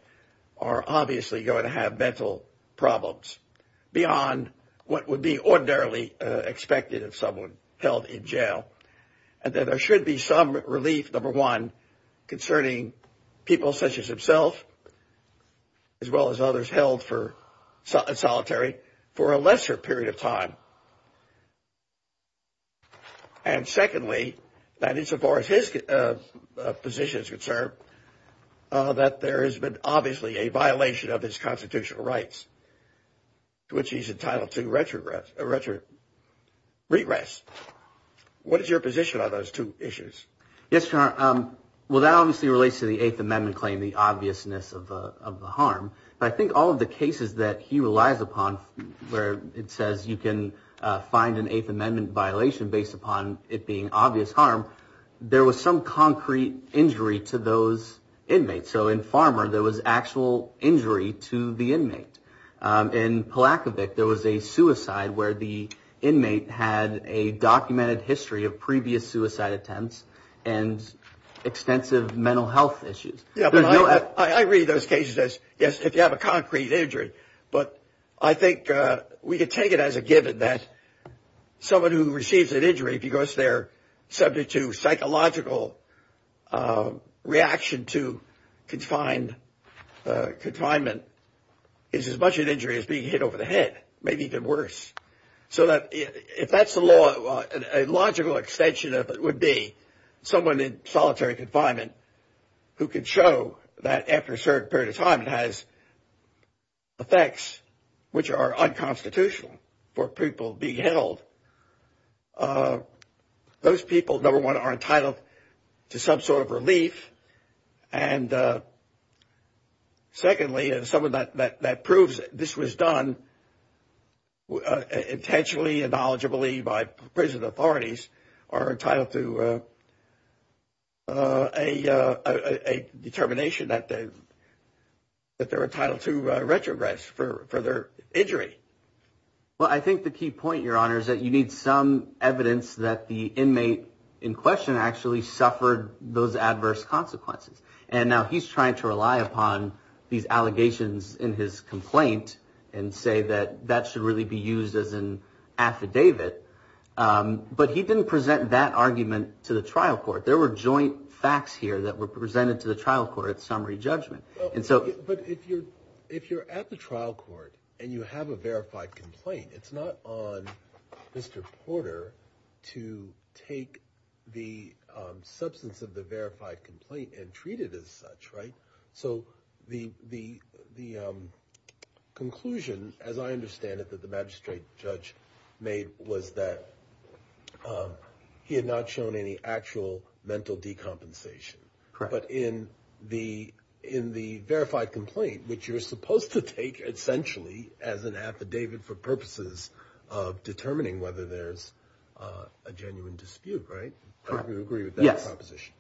are obviously going to have mental problems beyond what would be ordinarily expected of someone held in jail, and that there should be some relief, number one, concerning people such as himself, as well as others held in solitary for a lesser period of time. And secondly, that as far as his position is concerned, that there has been obviously a violation of his constitutional rights, which he's entitled to regress. What is your position on those two issues? Yes, Your Honor. Well, that obviously relates to the Eighth Amendment claim, the obviousness of the harm. But I think all of the cases that he relies upon where it says you can find an Eighth Amendment violation based upon it being obvious harm, there was some concrete injury to those inmates. So in Farmer, there was actual injury to the inmate. In Palakovic, there was a suicide where the inmate had a documented history of previous suicide attempts and extensive mental health issues. I read those cases as, yes, if you have a concrete injury, but I think we can take it as a given that someone who receives an injury because they're subject to psychological reaction to confinement is as much an injury as being hit over the head, maybe even worse. So if that's the law, a logical extension of it would be someone in solitary confinement who could show that after a certain period of time it has effects which are unconstitutional for people being held. Those people, number one, are entitled to some sort of relief. And secondly, and some of that proves this was done intentionally, by prison authorities, are entitled to a determination that they're entitled to retrogress for their injury. Well, I think the key point, Your Honor, is that you need some evidence that the inmate in question actually suffered those adverse consequences. And now he's trying to rely upon these allegations in his complaint and say that that should really be used as an affidavit. But he didn't present that argument to the trial court. There were joint facts here that were presented to the trial court at summary judgment. But if you're at the trial court and you have a verified complaint, it's not on Mr. Porter to take the substance of the verified complaint and treat it as such, right? So the conclusion, as I understand it, that the magistrate judge made, was that he had not shown any actual mental decompensation. But in the verified complaint, which you're supposed to take essentially as an affidavit for purposes of determining whether there's a genuine dispute, right? I don't really agree with that composition.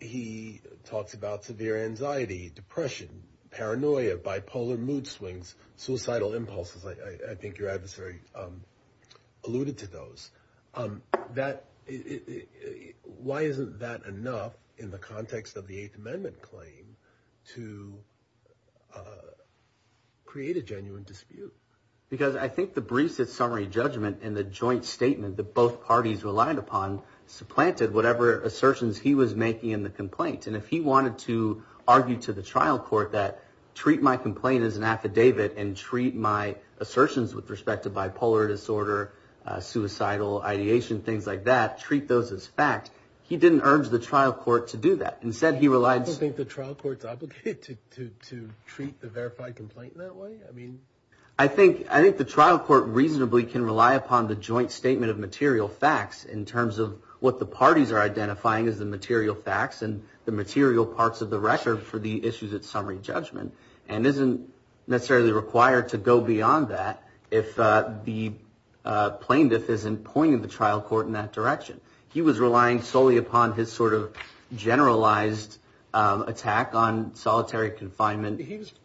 He talked about severe anxiety, depression, paranoia, bipolar mood swings, suicidal impulses. I think your adversary alluded to those. Why isn't that enough in the context of the Eighth Amendment claim to create a genuine dispute? Because I think the brief at summary judgment and the joint statement that both parties relied upon supplanted whatever assertions he was making in the complaint. And if he wanted to argue to the trial court that treat my complaint as an affidavit and treat my assertions with respect to bipolar disorder, suicidal ideation, things like that, treat those as facts, he didn't urge the trial court to do that. You don't think the trial court is obligated to treat the verified complaint that way? I think the trial court reasonably can rely upon the joint statement of material facts in terms of what the parties are identifying as the material facts and the material parts of the record for the issues at summary judgment and isn't necessarily required to go beyond that if the plaintiff isn't pointing the trial court in that direction. He was relying solely upon his sort of generalized attack on solitary confinement.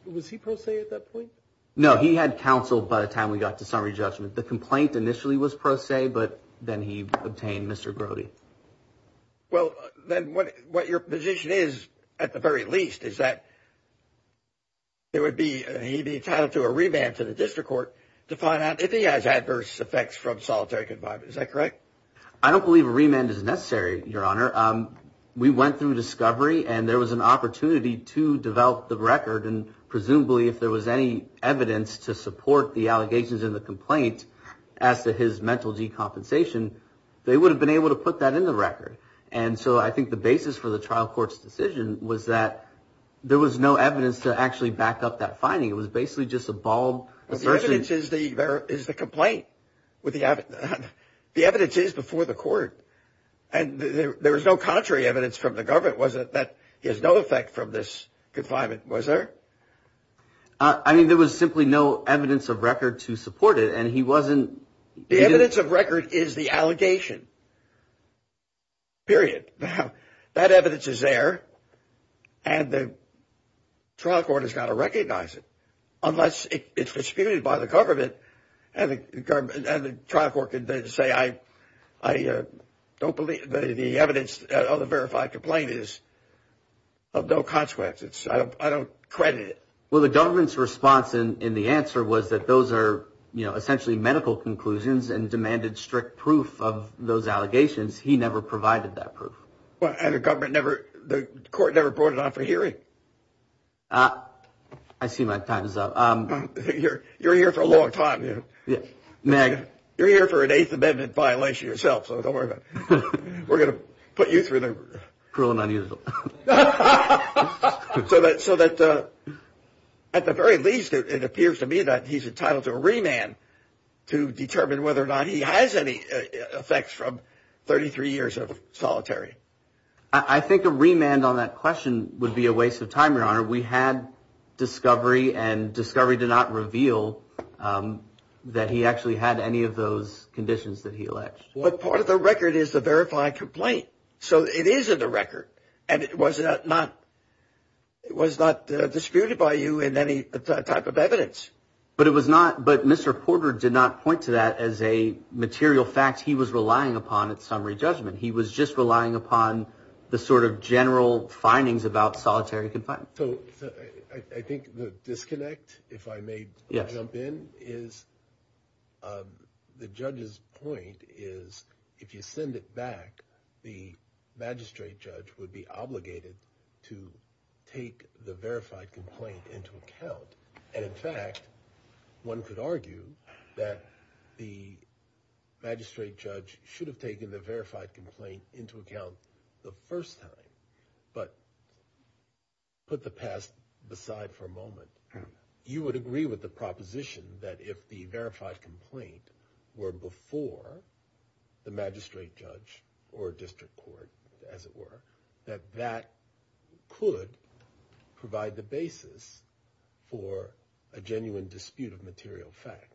Was he pro se at that point? No, he had counsel by the time we got to summary judgment. The complaint initially was pro se, but then he obtained Mr. Brody. Well, then what your position is at the very least is that there would be, he'd be entitled to a revamp to the district court to find out if he has adverse effects from solitary confinement. Is that correct? I don't believe a remand is necessary, Your Honor. We went through discovery, and there was an opportunity to develop the record, and presumably if there was any evidence to support the allegations in the complaint as to his mental decompensation, they would have been able to put that in the record. And so I think the basis for the trial court's decision was that there was no evidence to actually back up that finding. It was basically just a bald version. The evidence is the complaint. The evidence is before the court. And there was no contrary evidence from the government, was there, that he has no effect from this confinement, was there? I mean, there was simply no evidence of record to support it, and he wasn't... The evidence of record is the allegation, period. Now, that evidence is there, and the trial court has got to recognize it unless it's disputed by the government, and the trial court can then say, I don't believe the evidence of the verified complaint is of no consequence. I don't credit it. Well, the government's response in the answer was that those are, you know, essentially medical conclusions and demanded strict proof of those allegations. He never provided that proof. I see my time is up. You're here for a long time. Meg. You're here for an Eighth Amendment violation yourself, so don't worry about it. We're going to put you through the... Cruel and unusual. So that at the very least, it appears to me that he's entitled to a remand to determine whether or not he has any effects from 33 years of solitary. I think a remand on that question would be a waste of time, Your Honor. We had discovery, and discovery did not reveal that he actually had any of those conditions that he alleged. But part of the record is the verified complaint, so it is in the record, and it was not disputed by you in any type of evidence. But it was not... But Mr. Porter did not point to that as a material fact he was relying upon at summary judgment. He was just relying upon the sort of general findings about solitary confinement. So I think the disconnect, if I may jump in, is the judge's point is if you send it back, the magistrate judge would be obligated to take the verified complaint into account. And in fact, one could argue that the magistrate judge should have taken the verified complaint into account the first time, but put the past aside for a moment. You would agree with the proposition that if the verified complaint were before the magistrate judge or district court, as it were, that that could provide the basis for a genuine dispute of material fact.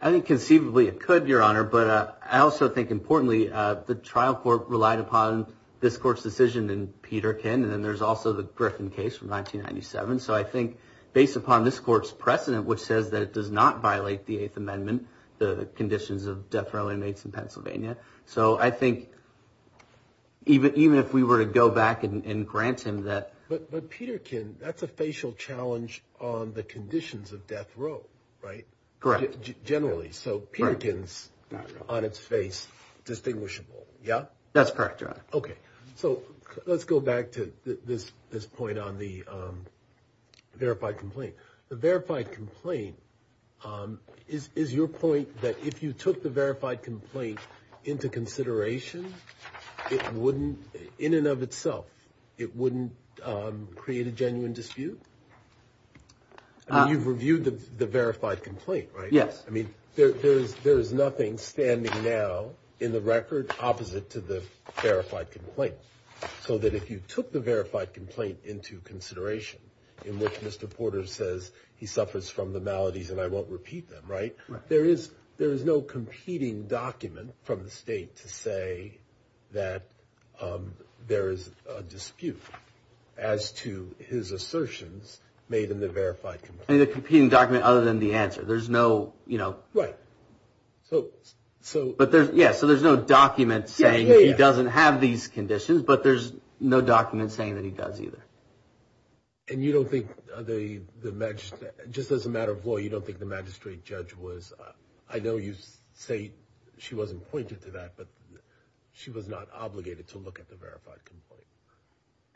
I think conceivably it could, Your Honor. But I also think importantly the trial court relied upon this court's decision in Peterkin, and then there's also the Griffin case from 1997. So I think based upon this court's precedent, which says that it does not violate the Eighth Amendment, the conditions of death row inmates in Pennsylvania. So I think even if we were to go back and grant him that. But Peterkin, that's a facial challenge on the conditions of death row, right? Correct. Generally. So Peterkin's on its face distinguishable, yeah? That's correct, Your Honor. Okay. So let's go back to this point on the verified complaint. The verified complaint is your point that if you took the verified complaint into consideration, it wouldn't, in and of itself, it wouldn't create a genuine dispute? I mean, you've reviewed the verified complaint, right? Yes. I mean, there is nothing standing now in the record opposite to the verified complaint. So that if you took the verified complaint into consideration, in which Mr. Porter says he suffers from the maladies and I won't repeat them, right? There is no competing document from the state to say that there is a dispute as to his assertions made in the verified complaint. And a competing document other than the answer. There's no, you know. Right. Yeah, so there's no document saying he doesn't have these conditions, but there's no document saying that he does either. And you don't think the magistrate, just as a matter of law, you don't think the magistrate judge was, I know you say she wasn't pointed to that, but she was not obligated to look at the verified complaint.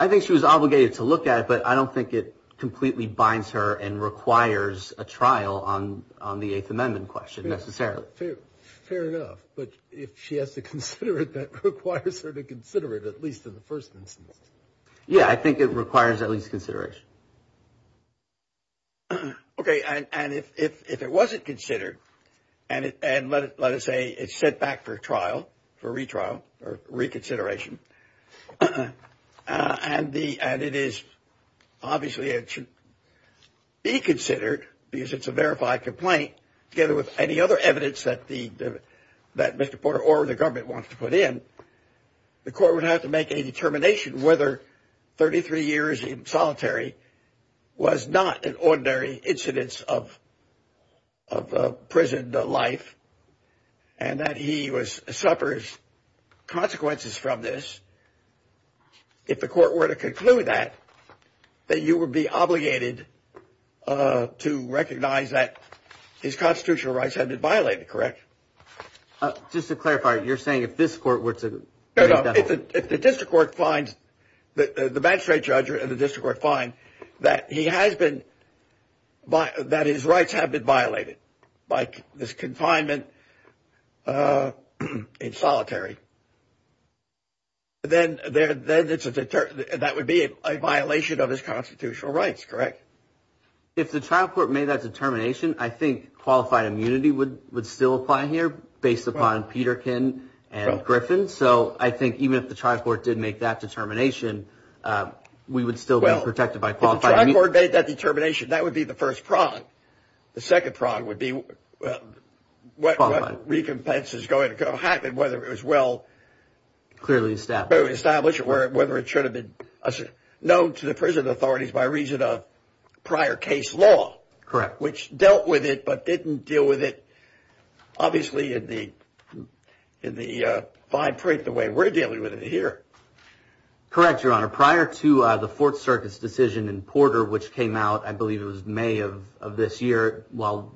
I think she was obligated to look at it, but I don't think it completely binds her and requires a trial on the Eighth Amendment question necessarily. Fair enough. But if she has to consider it, that requires her to consider it at least in the first instance. Yeah, I think it requires at least consideration. Okay, and if it wasn't considered, and let us say it's sent back for trial, for retrial, for reconsideration, and it is obviously it should be considered because it's a verified complaint together with any other evidence that Mr. Porter or the government wants to put in, the court would have to make a determination whether 33 years in solitary was not an ordinary incidence of prison life and that he suffers consequences from this. If the court were to conclude that, then you would be obligated to recognize that his constitutional rights have been violated, correct? Just to clarify, you're saying if this court were to- No, no. If the magistrate judge and the district court find that his rights have been violated by this confinement in solitary, then that would be a violation of his constitutional rights, correct? If the trial court made that determination, I think qualified immunity would still apply here based upon Peterkin and Griffin. So I think even if the trial court did make that determination, we would still be protected by qualified immunity. Well, if the trial court made that determination, that would be the first prong. The second prong would be what recompense is going to happen, whether it was well- Clearly established. Clearly established or whether it should have been known to the prison authorities by reason of prior case law. Correct. Which dealt with it but didn't deal with it, obviously, in the fine print the way we're dealing with it here. Correct, Your Honor. Prior to the Fourth Circuit's decision in Porter, which came out, I believe it was May of this year, while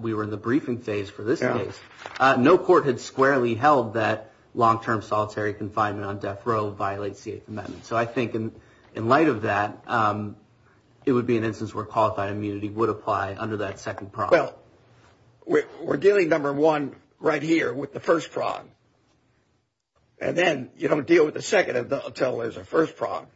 we were in the briefing phase for this case, no court had squarely held that long-term solitary confinement on death row violates the Eighth Amendment. So I think in light of that, it would be an instance where qualified immunity would apply under that second prong. Well, we're dealing, number one, right here with the first prong. And then you don't deal with the second until there's a first prong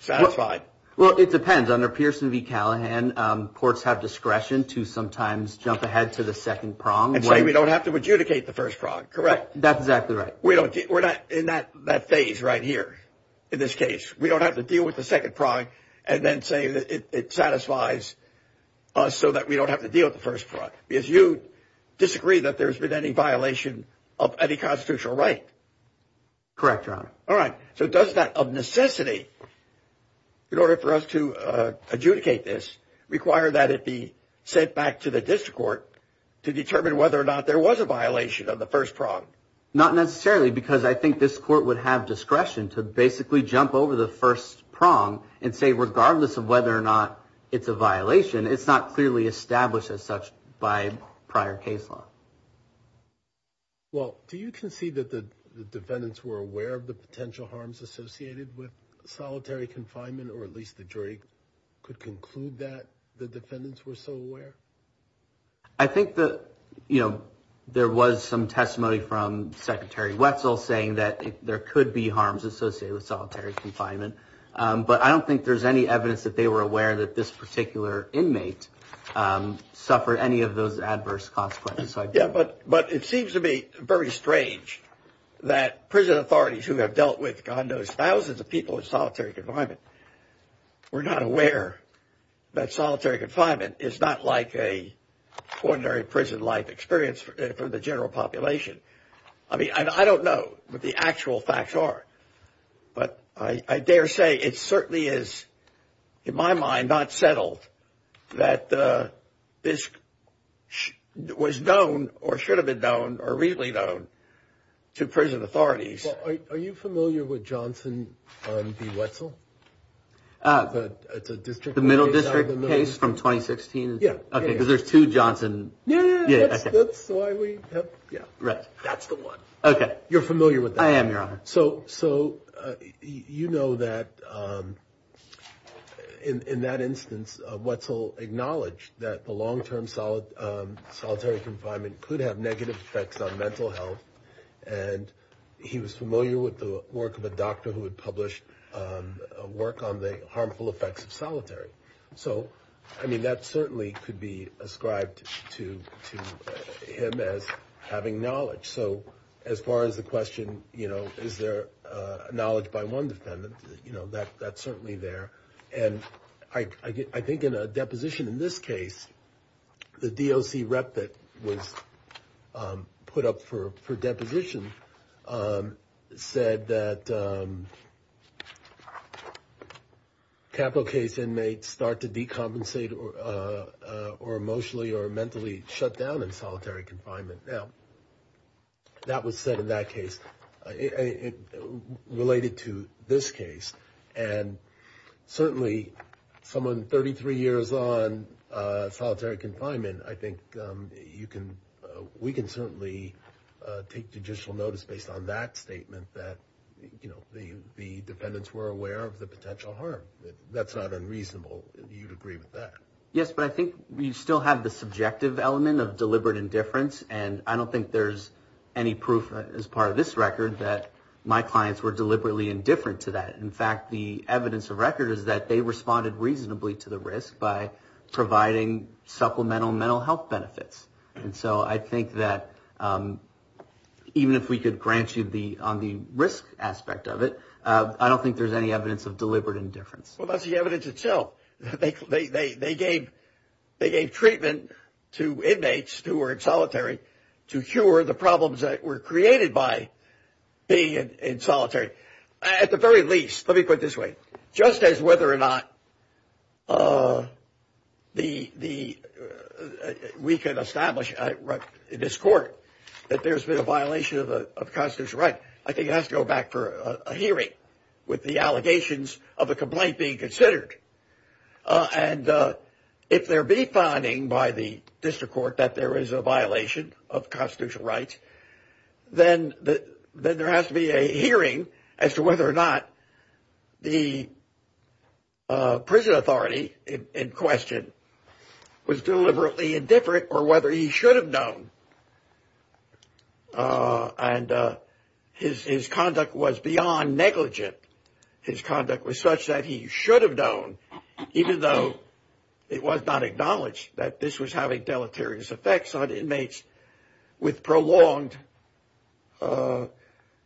satisfied. Well, it depends. Under Pearson v. Callahan, courts have discretion to sometimes jump ahead to the second prong. And say we don't have to adjudicate the first prong, correct? That's exactly right. We're not in that phase right here in this case. We don't have to deal with the second prong and then say that it satisfies us so that we don't have to deal with the first prong. Because you disagree that there's been any violation of any constitutional right. Correct, Your Honor. All right. So does that, of necessity, in order for us to adjudicate this, require that it be sent back to the district court to determine whether or not there was a violation of the first prong? Not necessarily. Because I think this court would have discretion to basically jump over the first prong and say regardless of whether or not it's a violation, it's not clearly established as such by prior case law. Well, do you concede that the defendants were aware of the potential harms associated with solitary confinement or at least the jury could conclude that the defendants were so aware? I think that, you know, there was some testimony from Secretary Wetzel saying that there could be harms associated with solitary confinement. But I don't think there's any evidence that they were aware that this particular inmate suffered any of those adverse consequences. Yeah, but it seems to me very strange that prison authorities who have dealt with, God knows, thousands of people in solitary confinement were not aware that solitary confinement is not like a ordinary prison life experience for the general population. I mean, I don't know what the actual facts are. But I dare say it certainly is, in my mind, not settled that this was known or should have been known or really known to prison authorities. Are you familiar with Johnson v. Wetzel? The middle district case from 2016? Yeah. Okay, because there's two Johnson... Yeah, that's why we have... Right, that's the one. Okay. You're familiar with that? I am, Your Honor. So, you know that in that instance, Wetzel acknowledged that the long-term solitary confinement could have negative effects on mental health, and he was familiar with the work of a doctor who had published work on the harmful effects of solitary. So, I mean, that certainly could be ascribed to him as having knowledge. So, as far as the question, you know, is there knowledge by one defendant? You know, that's certainly there. And I think in a deposition in this case, the DOC rep that was put up for deposition said that capital case inmates start to decompensate or emotionally or mentally shut down in solitary confinement. Now, that was said in that case. Related to this case, and certainly someone 33 years on solitary confinement, I think we can certainly take judicial notice based on that statement that, you know, the defendants were aware of the potential harm. That's not unreasonable. You'd agree with that. Yes, but I think you still have the subjective element of deliberate indifference, and I don't think there's any proof as part of this record that my clients were deliberately indifferent to that. In fact, the evidence of record is that they responded reasonably to the risk by providing supplemental mental health benefits. And so I think that even if we could grant you on the risk aspect of it, I don't think there's any evidence of deliberate indifference. Well, not the evidence itself. They gave treatment to inmates who were in solitary to cure the problems that were created by being in solitary. At the very least, let me put it this way. Just as whether or not we can establish in this court that there's been a violation of Constance's right, I think it has to go back for a hearing with the allegations of a complaint being considered. And if there be finding by the district court that there is a violation of Constance's right, then there has to be a hearing as to whether or not the prison authority in question was deliberately indifferent or whether he should have known. And his conduct was beyond negligent. His conduct was such that he should have known, even though it was not acknowledged that this was having deleterious effects on inmates with prolonged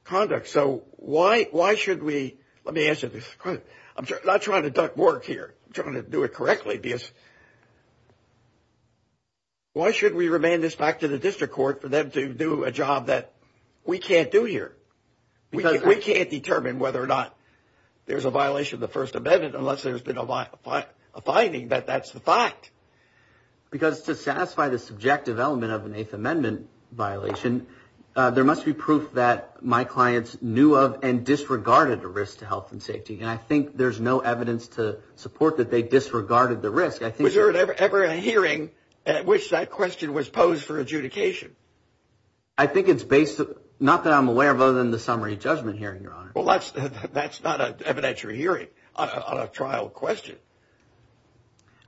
conduct. So why should we – let me answer this. I'm not trying to duck work here. I'm trying to do it correctly. Why should we remand this back to the district court for them to do a job that we can't do here? We can't determine whether or not there's a violation of the First Amendment unless there's been a finding that that's the fact. Because to satisfy the subjective element of an Eighth Amendment violation, there must be proof that my clients knew of and disregarded the risk to health and safety. And I think there's no evidence to support that they disregarded the risk. Was there ever a hearing at which that question was posed for adjudication? I think it's based – not that I'm aware of other than the summary judgment hearing, Your Honor. Well, that's not an evidentiary hearing on a trial question.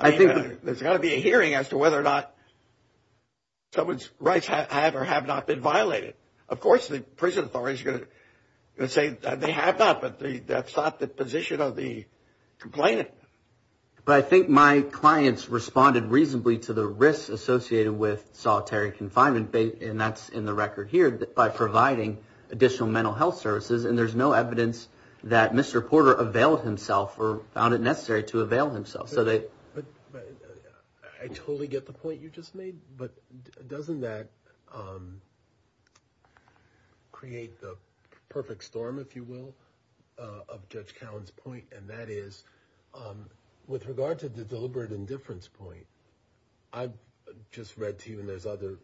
There's got to be a hearing as to whether or not someone's rights have or have not been violated. Of course, the prison authorities are going to say that they have not, but that's not the position of the complainant. But I think my clients responded reasonably to the risk associated with solitary confinement, and that's in the record here, by providing additional mental health services, and there's no evidence that Mr. Porter availed himself or found it necessary to avail himself. I totally get the point you just made, but doesn't that create the perfect storm, if you will, of Judge Callen's point? And that is, with regard to the deliberate indifference point, I just read to you, and there's other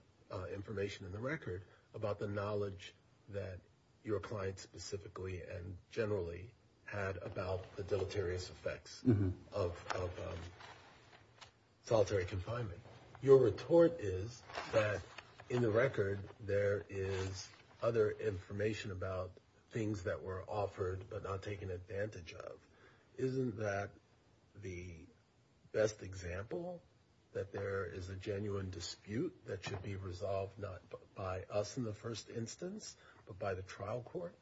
information in the record, about the knowledge that your client specifically and generally had about the deleterious effects of solitary confinement. Your report is that, in the record, there is other information about things that were offered but not taken advantage of. Isn't that the best example that there is a genuine dispute that should be resolved not by us in the first instance, but by the trial court?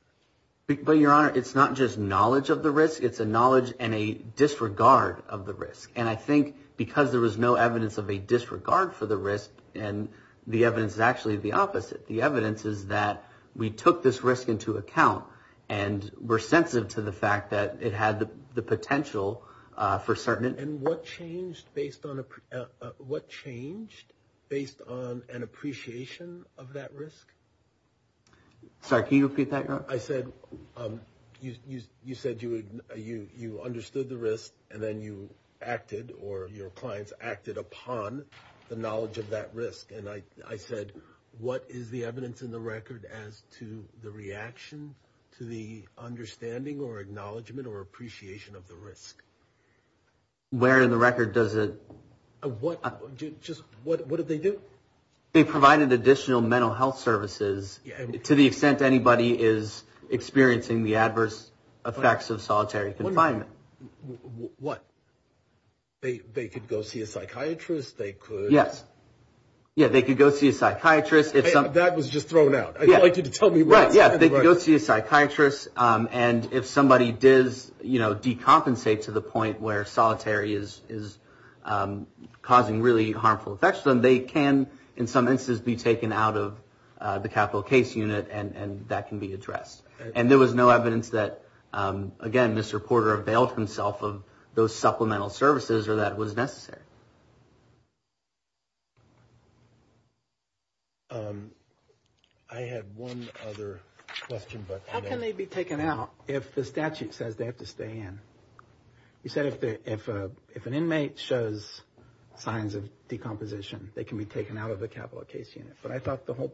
But, Your Honor, it's not just knowledge of the risk, it's a knowledge and a disregard of the risk. And I think because there was no evidence of a disregard for the risk, the evidence is actually the opposite. The evidence is that we took this risk into account and were sensitive to the fact that it had the potential for certain... And what changed based on an appreciation of that risk? Sorry, can you repeat that, Your Honor? I said, you said you understood the risk and then you acted, or your clients acted upon the knowledge of that risk. And I said, what is the evidence in the record as to the reaction to the understanding or acknowledgement or appreciation of the risk? Where in the record does it... What did they do? They provided additional mental health services to the extent anybody is experiencing the adverse effects of solitary confinement. What? They could go see a psychiatrist, they could... Yes. Yes, they could go see a psychiatrist. That was just thrown out. I'd like you to tell me what... Yes, they could go see a psychiatrist, and if somebody did decompensate to the point where solitary is causing really harmful effects, then they can, in some instances, be taken out of the capital case unit and that can be addressed. And there was no evidence that, again, this reporter availed himself of those supplemental services or that it was necessary. I have one other question, but... How can they be taken out if the statute says they have to stay in? You said if an inmate shows signs of decomposition, they can be taken out of the capital case unit, but I thought the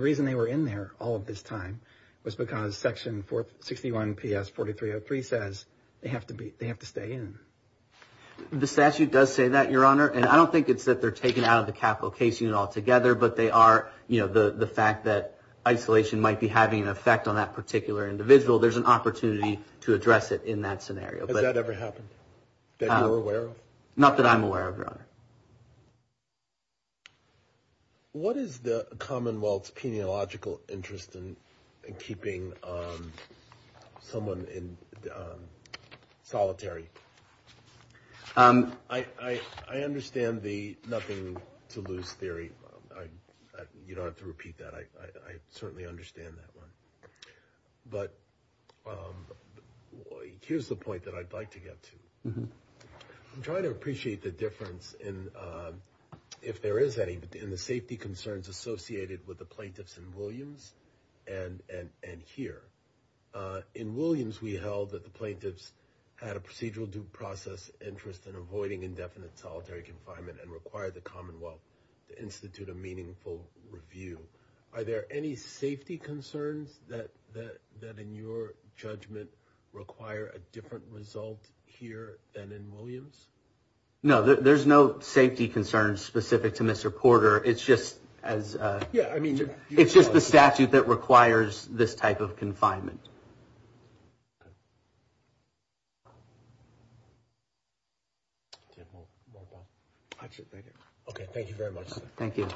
reason they were in there all of this time was because Section 61PS4303 says they have to stay in. The statute does say that, Your Honor, and I don't think it's that they're taken out of the capital case unit altogether, but they are... The fact that isolation might be having an effect on that particular individual, there's an opportunity to address it in that scenario. Has that ever happened that you're aware of? Not that I'm aware of, Your Honor. What is the Commonwealth's peniological interest in keeping someone solitary? I understand the nothing to lose theory. You don't have to repeat that. I certainly understand that one. But here's the point that I'd like to get to. I'm trying to appreciate the difference in, if there is any, in the safety concerns associated with the plaintiffs in Williams and here. In Williams, we held that the plaintiffs had a procedural due process interest in avoiding indefinite solitary confinement and required the Commonwealth to institute a meaningful review. Are there any safety concerns that, in your judgment, require a different result here than in Williams? No, there's no safety concerns specific to Mr. Porter. It's just as... Okay, thank you very much, sir. Thank you.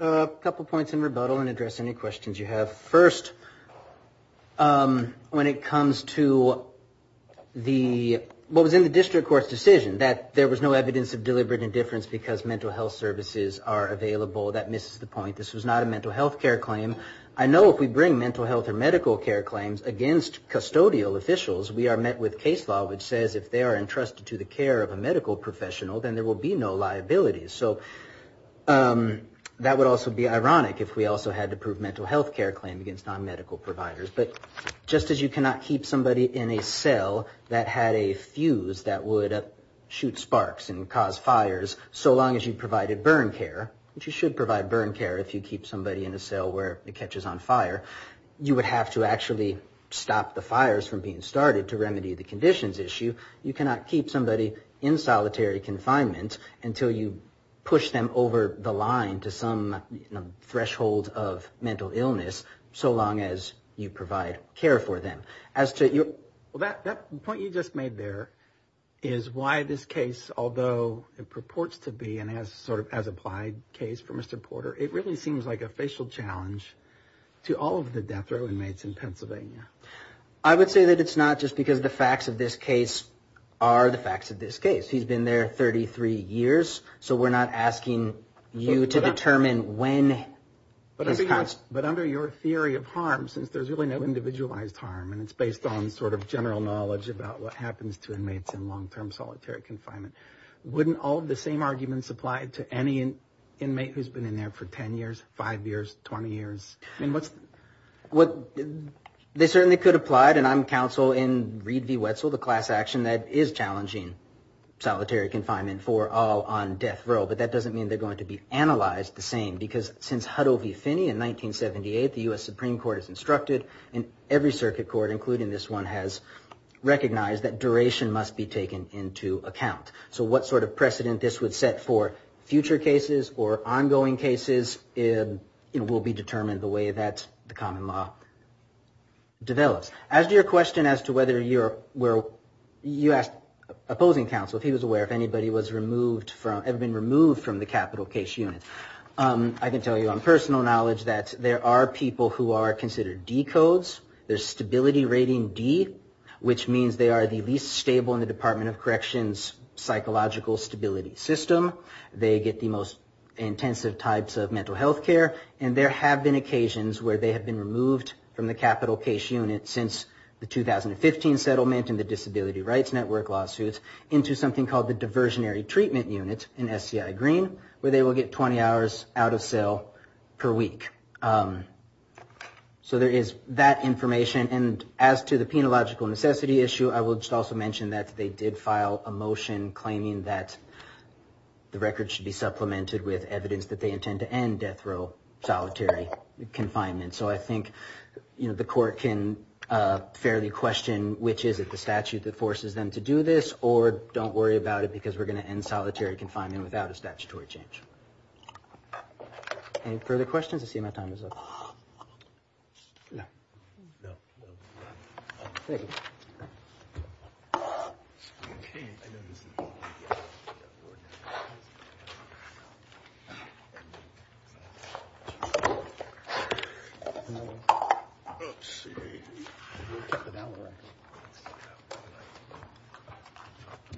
A couple points in rebuttal and address any questions you have. First, when it comes to what was in the district court's decision, that there was no evidence of deliberate indifference because mental health services are available, that misses the point. This was not a mental health care claim. I know if we bring mental health or medical care claims against custodial officials, we are met with case law, which says if they are entrusted to the care of a medical professional, then there will be no liabilities. That would also be ironic if we also had to prove mental health care claim against non-medical providers. But just as you cannot keep somebody in a cell that had a fuse that would shoot sparks and cause fires, so long as you provided burn care, which you should provide burn care if you keep somebody in a cell where it catches on fire, you would have to actually stop the fires from being started to remedy the conditions issue. You cannot keep somebody in solitary confinement until you push them over the line to some threshold of mental illness, so long as you provide care for them. The point you just made there is why this case, although it purports to be an as-implied case from a supporter, it really seems like a facial challenge to all of the deaths of inmates in Pennsylvania. I would say that it's not just because the facts of this case are the facts of this case. He's been there 33 years, so we're not asking you to determine when. But under your theory of harm, since there's really no individualized harm and it's based on sort of general knowledge about what happens to inmates in long-term solitary confinement, wouldn't all of the same arguments apply to any inmate who's been in there for 10 years, 5 years, 20 years? They certainly could apply, and I'm counsel in Reed v. Wetzel, the class action that is challenging solitary confinement for all on death row, but that doesn't mean they're going to be analyzed the same, because since Huddle v. Finney in 1978, the U.S. Supreme Court has instructed, and every circuit court, including this one, has recognized that duration must be taken into account. So what sort of precedent this would set for future cases or ongoing cases will be determined the way that the common law develops. As to your question as to whether you're opposing counsel, if he was aware if anybody had been removed from the capital case unit, I can tell you on personal knowledge that there are people who are considered D codes. There's stability rating D, which means they are the least stable in the Department of Corrections psychological stability system. They get the most intensive types of mental health care, and there have been occasions where they have been removed from the capital case unit since the 2015 settlement in the Disability Rights Network lawsuit into something called the Diversionary Treatment Unit, in SCI Green, where they will get 20 hours out of cell per week. So there is that information, and as to the penological necessity issue, I will just also mention that they did file a motion claiming that the record should be supplemented with evidence that they intend to end death row solitary confinement. So I think the court can fairly question which is it, the statute that forces them to do this, or don't worry about it because we're going to end solitary confinement without a statutory change. Any further questions? I see my time is up. No. Thank you. Let's see.